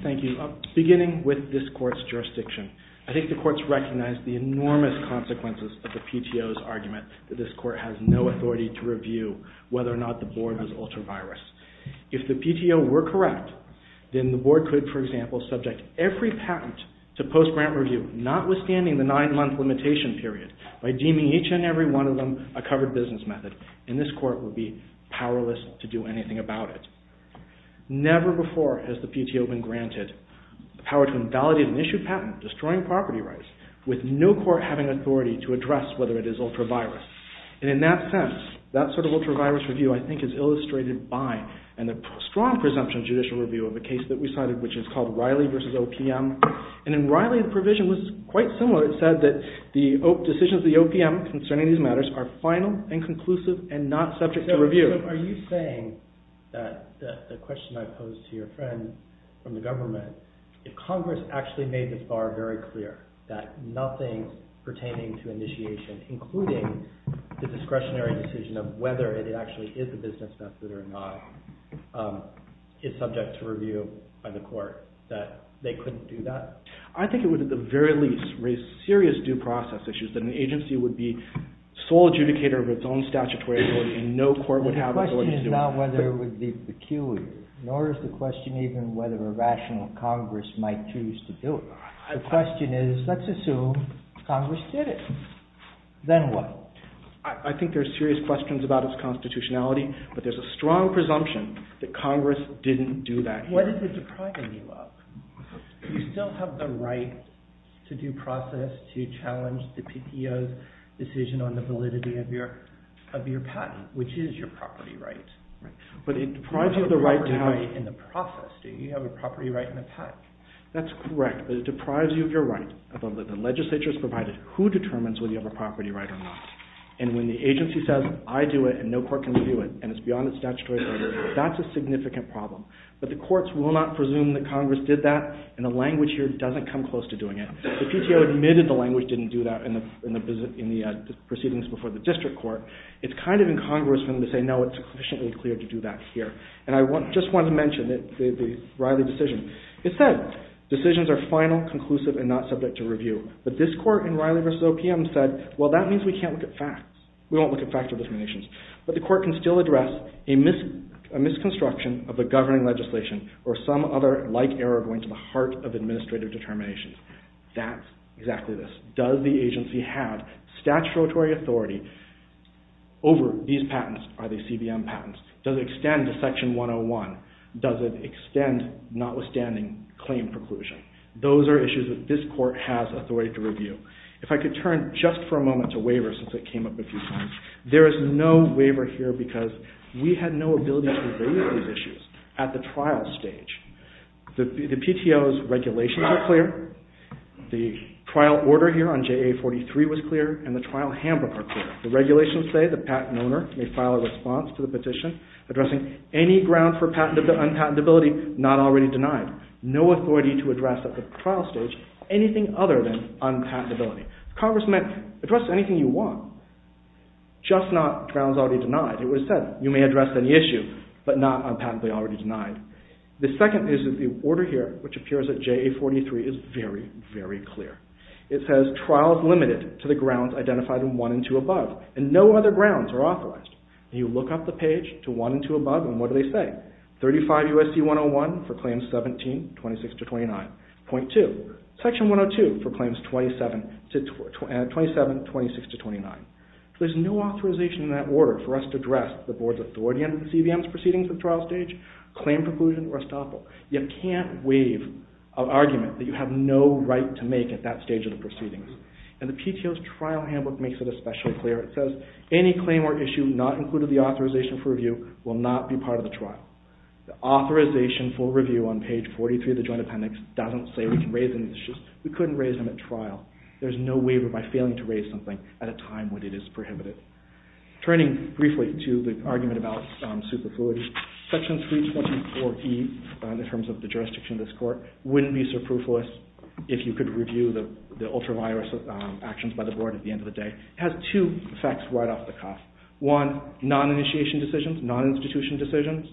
Thank you. Beginning with this court's jurisdiction. I think the courts recognize the enormous consequences of the PTO's argument that this court has no authority to review whether or not the board has altered virus. If the PTO were correct then the board could, for example, subject every patent to post-grant review notwithstanding the nine-month limitation period by deeming each and every one of them a covered business method and this court would be powerless to do anything about it. Never before has the PTO been granted the power to invalidate an issued patent destroying property rights with no court having authority to address whether it is ultra-virus. And in that sense that sort of ultra-virus review I think is illustrated by in the strong presumption judicial review of the case that we cited which is called Riley v. OPM. And in Riley the provision was quite similar. It said that the decisions of the OPM concerning these matters are final and conclusive and not subject to review. Are you saying that the question I posed to your friend from the government if Congress actually made the FAR very clear that nothing pertaining to initiation including the discretionary decision of whether it actually is a business method or not is subject to review by the court that they couldn't do that? I think it would at the very least raise serious due process issues that an agency would be sole adjudicator of its own statutory ability and no court would have authority to... The question is not whether it would be peculiar nor is the question even whether a rational Congress might choose to do it. The question is let's assume Congress did it. Then what? I think there's serious questions about its constitutionality but there's a strong presumption that Congress didn't do that. What is it depriving you of? You still have the right to due process to challenge the PPO's decision on the validity of your patent which is your property right. But it deprives you of the right to have... In the process, do you have a property right in the patent? That's correct but it deprives you of your right. The legislature's provided who determines whether you have a property right or not and when the agency says I do it and no court can do it and it's beyond the statutory... That's a significant problem but the courts will not presume that Congress did that and the language here doesn't come close to doing it. The PTO admitted the language didn't do that in the proceedings before the district court. It's kind of incongruous when they say no it's sufficiently clear to do that here. And I just want to mention the Riley decision. It said decisions are final, conclusive and not subject to review. But this court in Riley v. OPM said well that means we can't look at facts. We won't look at factual determinations. But the court can still address a misconstruction of a governing legislation or some other like error going to the heart of administrative determinations. That's exactly this. Does the agency have statutory authority over these patents? Are they CBM patents? Does it extend to section 101? Does it extend notwithstanding claim preclusion? Those are issues that this court has authority to review. If I could turn just for a moment to waivers since it came up in the proceedings. There is no waiver here because we had no ability to review these issues at the trial stage. The PTO's regulations are clear. The trial order here on JA-43 was clear and the trial hammer are clear. The regulations say the patent owner may file a response to the petition addressing any grounds for unpatentability not already denied. No authority to address at the trial stage anything other than unpatentability. Congress may address anything you want just not grounds already denied. It was said you may address any issue but not unpatently already denied. The second is the order here which appears at JA-43 is very, very clear. It says trials limited to the grounds identified in 1 and 2 above and no other grounds are authorized. You look up the page to 1 and 2 above and what do they say? 35 USD 101 for claims 17, 26 to 29. Point 2. Section 102 for claims 27, 26 to 29. There's no authorization in that order for us to address the board's authority on CBM's proceedings at the trial stage, claim conclusion, or estoppel. You can't waive an argument that you have no right to make at that stage of the proceedings. And the PTO's trial handbook makes it especially clear. It says any claim or issue not included in the authorization for review will not be part of the trial. The authorization for review on page 43 of the Joint Appendix doesn't say we can raise any issues. We couldn't raise them at trial. There's no waiver by failing to raise something at a time when it is prohibited. Turning briefly to the argument about superfluity, Section 324E in terms of the jurisdiction of this court wouldn't be superfluous if you could review the ultra-virus actions by the board at the end of the day. It has two effects right off the cuff. One, non-initiation decisions, non-institution decisions,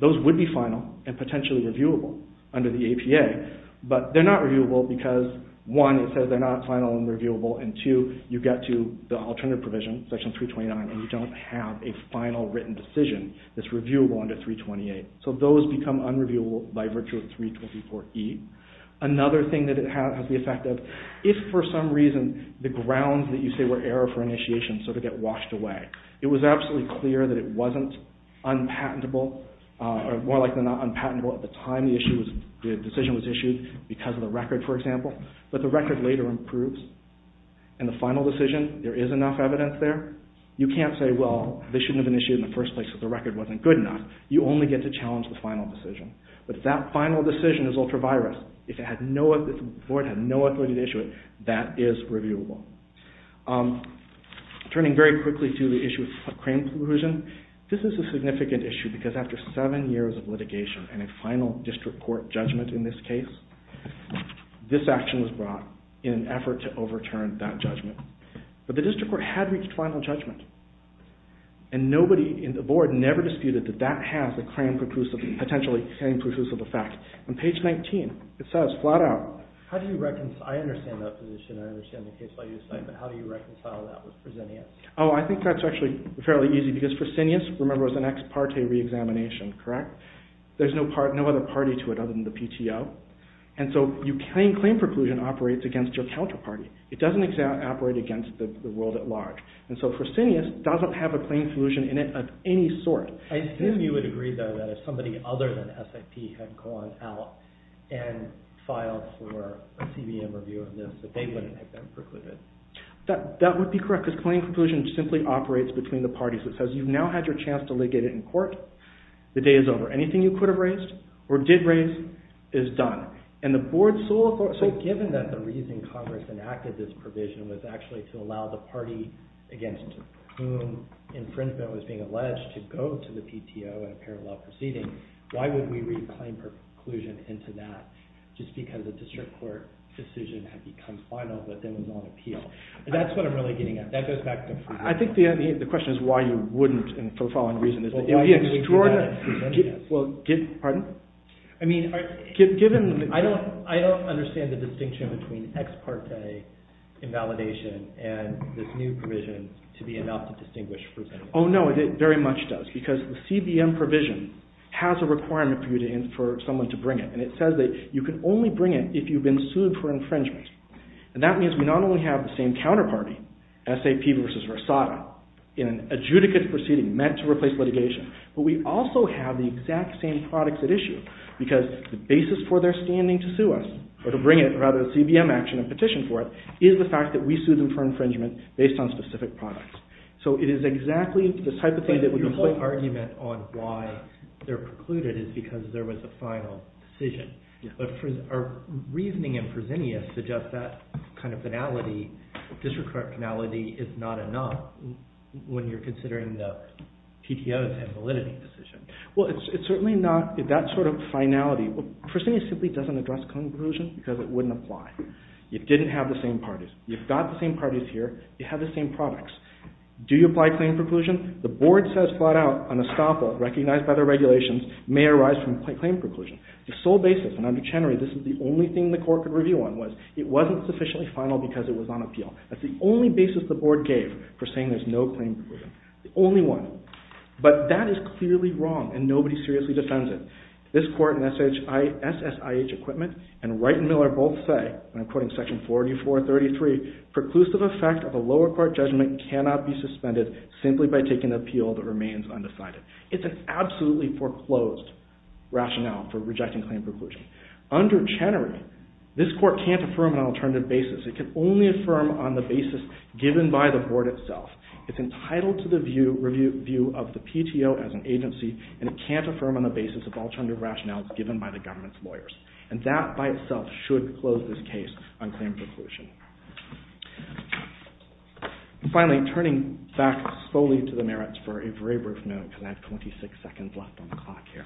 those would be final and potentially reviewable under the APA. But they're not reviewable because, one, it says they're not final and reviewable, and two, you get to the alternative provision, Section 329, and you don't have a final written decision that's reviewable under 328. So those become unreviewable by virtue of 324E. Another thing that it has as the effect of, if for some reason the grounds that you say were error for initiation sort of get washed away, it was absolutely clear that it wasn't unpatentable, or more likely than not unpatentable at the time the decision was issued because of the record, for example. But the record later improves. In the final decision, there is enough evidence there. You can't say, well, this shouldn't have been issued in the first place if the record wasn't good enough. You only get to challenge the final decision. But if that final decision is ultra-virus, if the board had no authority to issue it, that is reviewable. Turning very quickly to the issue of crane collusion, this is a significant issue because after seven years of litigation and a final district court judgment in this case, this action was brought in an effort to overturn that judgment. But the district court had reached final judgment. And nobody in the board never disputed that that has a crane collusion, potentially crane collusion effect. On page 19, it says flat out. How do you reconcile, I understand that position, I understand the case that you just made, but how do you reconcile that with proscenium? Oh, I think that's actually fairly easy because proscenium, remember, is an ex parte re-examination, correct? There's no other party to it other than the PTO. And so your crane collusion operates against your counterparty. It doesn't operate against the world at large. And so proscenium doesn't have a crane collusion in it of any sort. I assume you would agree though that if somebody other than SFT had gone out and filed for a TV interview, that they wouldn't have been precluded. That would be correct because crane collusion simply operates between the parties. It says you've now had your chance to legate it in court. The day is over. Anything you could have raised or did raise is done. And the board's sole authority... So given that the reason Congress enacted this provision was actually to allow the party against whom infringement was being alleged to go to the PTO in a parallel proceeding, why would we reclaim proscenium into that just because a district court decision had become final but then was on appeal? That's what I'm really getting at. I think the question is why you wouldn't for the following reasons. I don't understand the distinction between ex parte invalidation and this new provision to be enough to distinguish... Oh no, it very much does because the CBM provision has a requirement for someone to bring it. And it says that you can only bring it if you've been sued for infringement. And that means we not only have the same counterparty, SAP versus Rosado, in an adjudicate proceeding meant to replace litigation, but we also have the exact same products at issue because the basis for their standing to sue us or to bring it, or rather the CBM action and petition for it is the fact that we sued them for infringement based on specific products. So it is exactly this type of thing that we... The whole argument on why they're precluded is because there was a final decision. But our reasoning in proscenium suggests that kind of finality is not enough when you're considering the PTOs and validity decision. Well, it's certainly not... That sort of finality... Proscenium simply doesn't address claim preclusion because it wouldn't apply. You didn't have the same parties. You've got the same parties here. You have the same products. Do you apply claim preclusion? The board says flat out on a stopper recognized by the regulations may arise from claim preclusion. The sole basis, and under Chenery this is the only thing the court could review on was it wasn't sufficiently final because it was on appeal. That's the only basis the board gave for saying there's no claim preclusion. The only one. But that is clearly wrong and nobody seriously defends it. This court and SSIH equipment and Wright and Miller both say and I'm quoting section 4433 preclusive effect of a lower court judgment cannot be suspended simply by taking an appeal that remains undecided. It's an absolutely foreclosed rationale for rejecting claim preclusion. Under Chenery this court can't affirm an alternative basis. It can only affirm on the basis given by the board itself. It's entitled to the review of the PTO as an agency and it can't affirm on the basis of alternative rationales given by the government's lawyers. And that by itself should close this case on claim preclusion. And finally, turning back slowly to the merits for a very brief note because I have 26 seconds left on the clock here.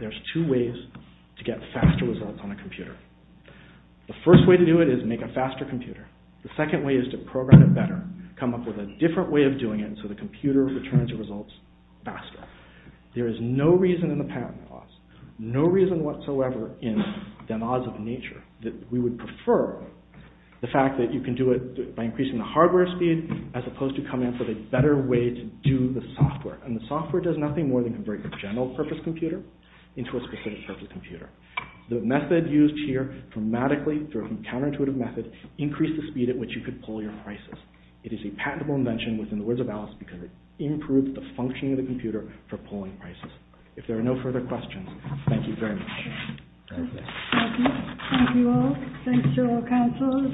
There's two ways to get faster results on a computer. The first way to do it is make a faster computer. The second way is to program it better. Come up with a different way of doing it so the computer returns the results faster. There is no reason in the patent laws no reason whatsoever in the laws of nature that we would prefer the fact that you can do it by increasing the hardware speed as opposed to coming up with a better way to do the software. And the software does nothing more than convert a general purpose computer into a specific purpose computer. The method used here dramatically through a counterintuitive method increased the speed at which you could pull your prices. It is a patentable invention within the words of Alice because it improves the functioning of the computer for pulling prices. If there are no further questions, thank you very much. Thank you. Thank you all. Thanks to all counselors.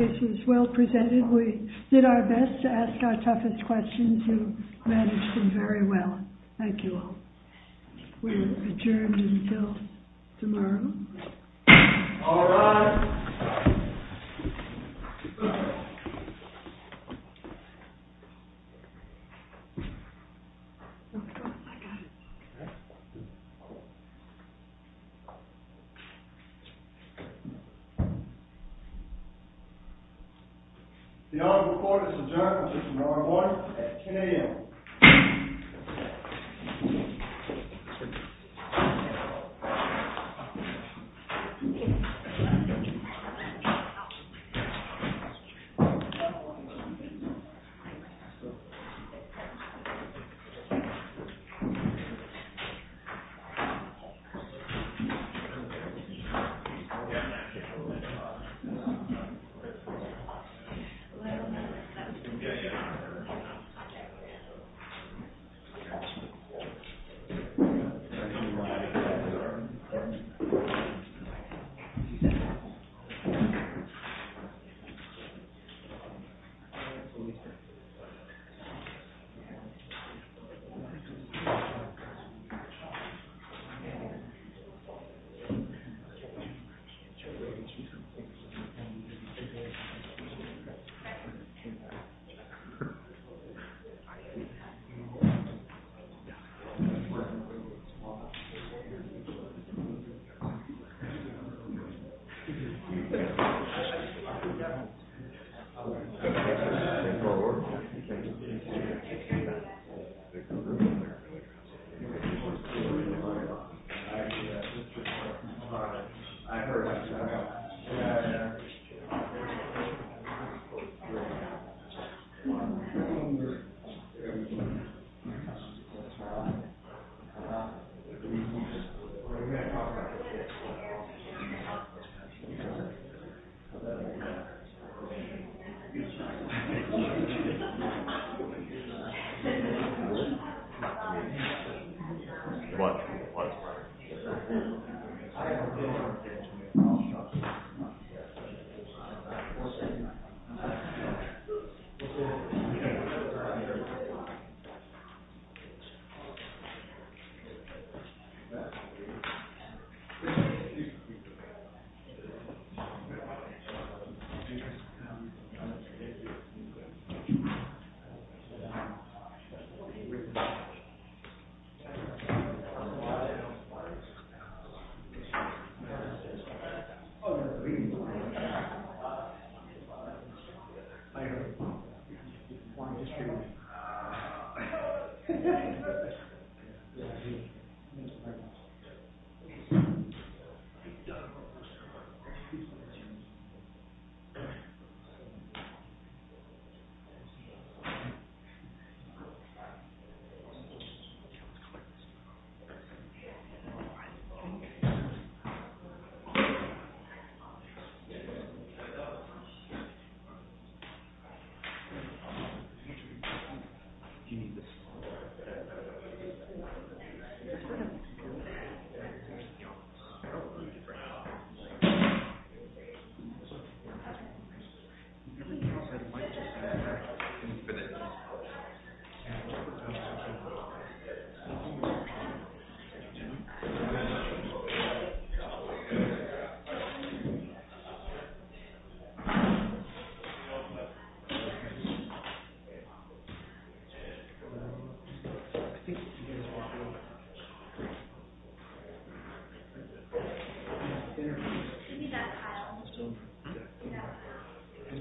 This is well presented. We did our best to ask our toughest questions and managed them very well. Thank you all. We will adjourn until tomorrow. All rise. The audit report is adjourned for tomorrow morning at 10 a.m.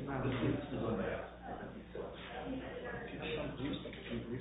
Thank you. Thank you. Thank you. Thank you. Thank you. Thank you. Thank you. Thank you. Thank you. Thank you. Thank you. Thank you. Thank you. Thank you.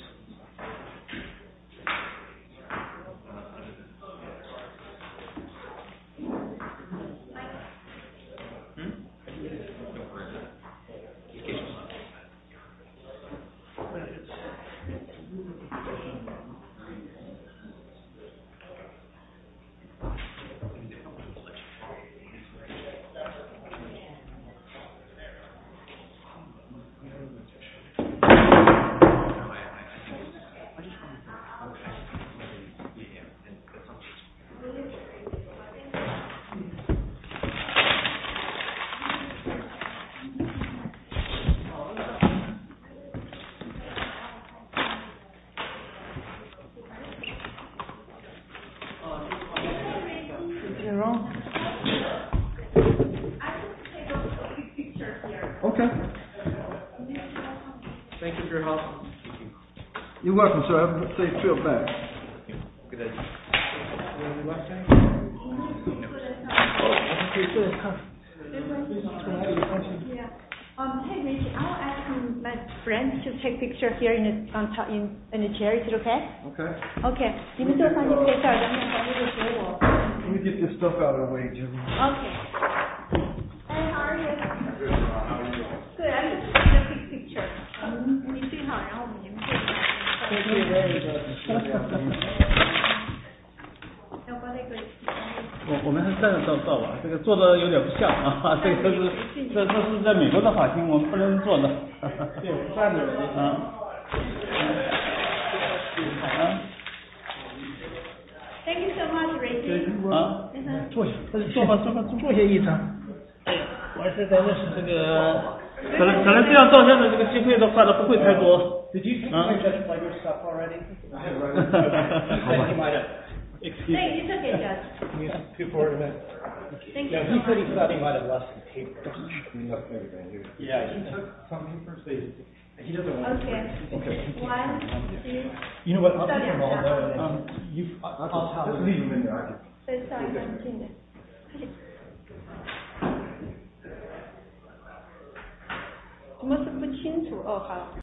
Is it on? Okay. Thank you very much. You're welcome, sir. I hope they feel better. Any questions? Thank you. I have a question. I'll ask my friend to take a picture of you in a chair, is that okay? Okay. Okay. We'll get your stuff out of the way, too. Okay. I'll take a picture. Thank you very much. No problem. Thank you. Thank you. Thank you. Thank you. Thank you. Thank you so much, Ray. Thank you. Why did I listen to the... Did you get it by yourself already? Thank you. You took it, yes. Thank you. I heard you kept it by the investigate version. Did he have to take a picture of you? Yeah, he did. We've got to continue.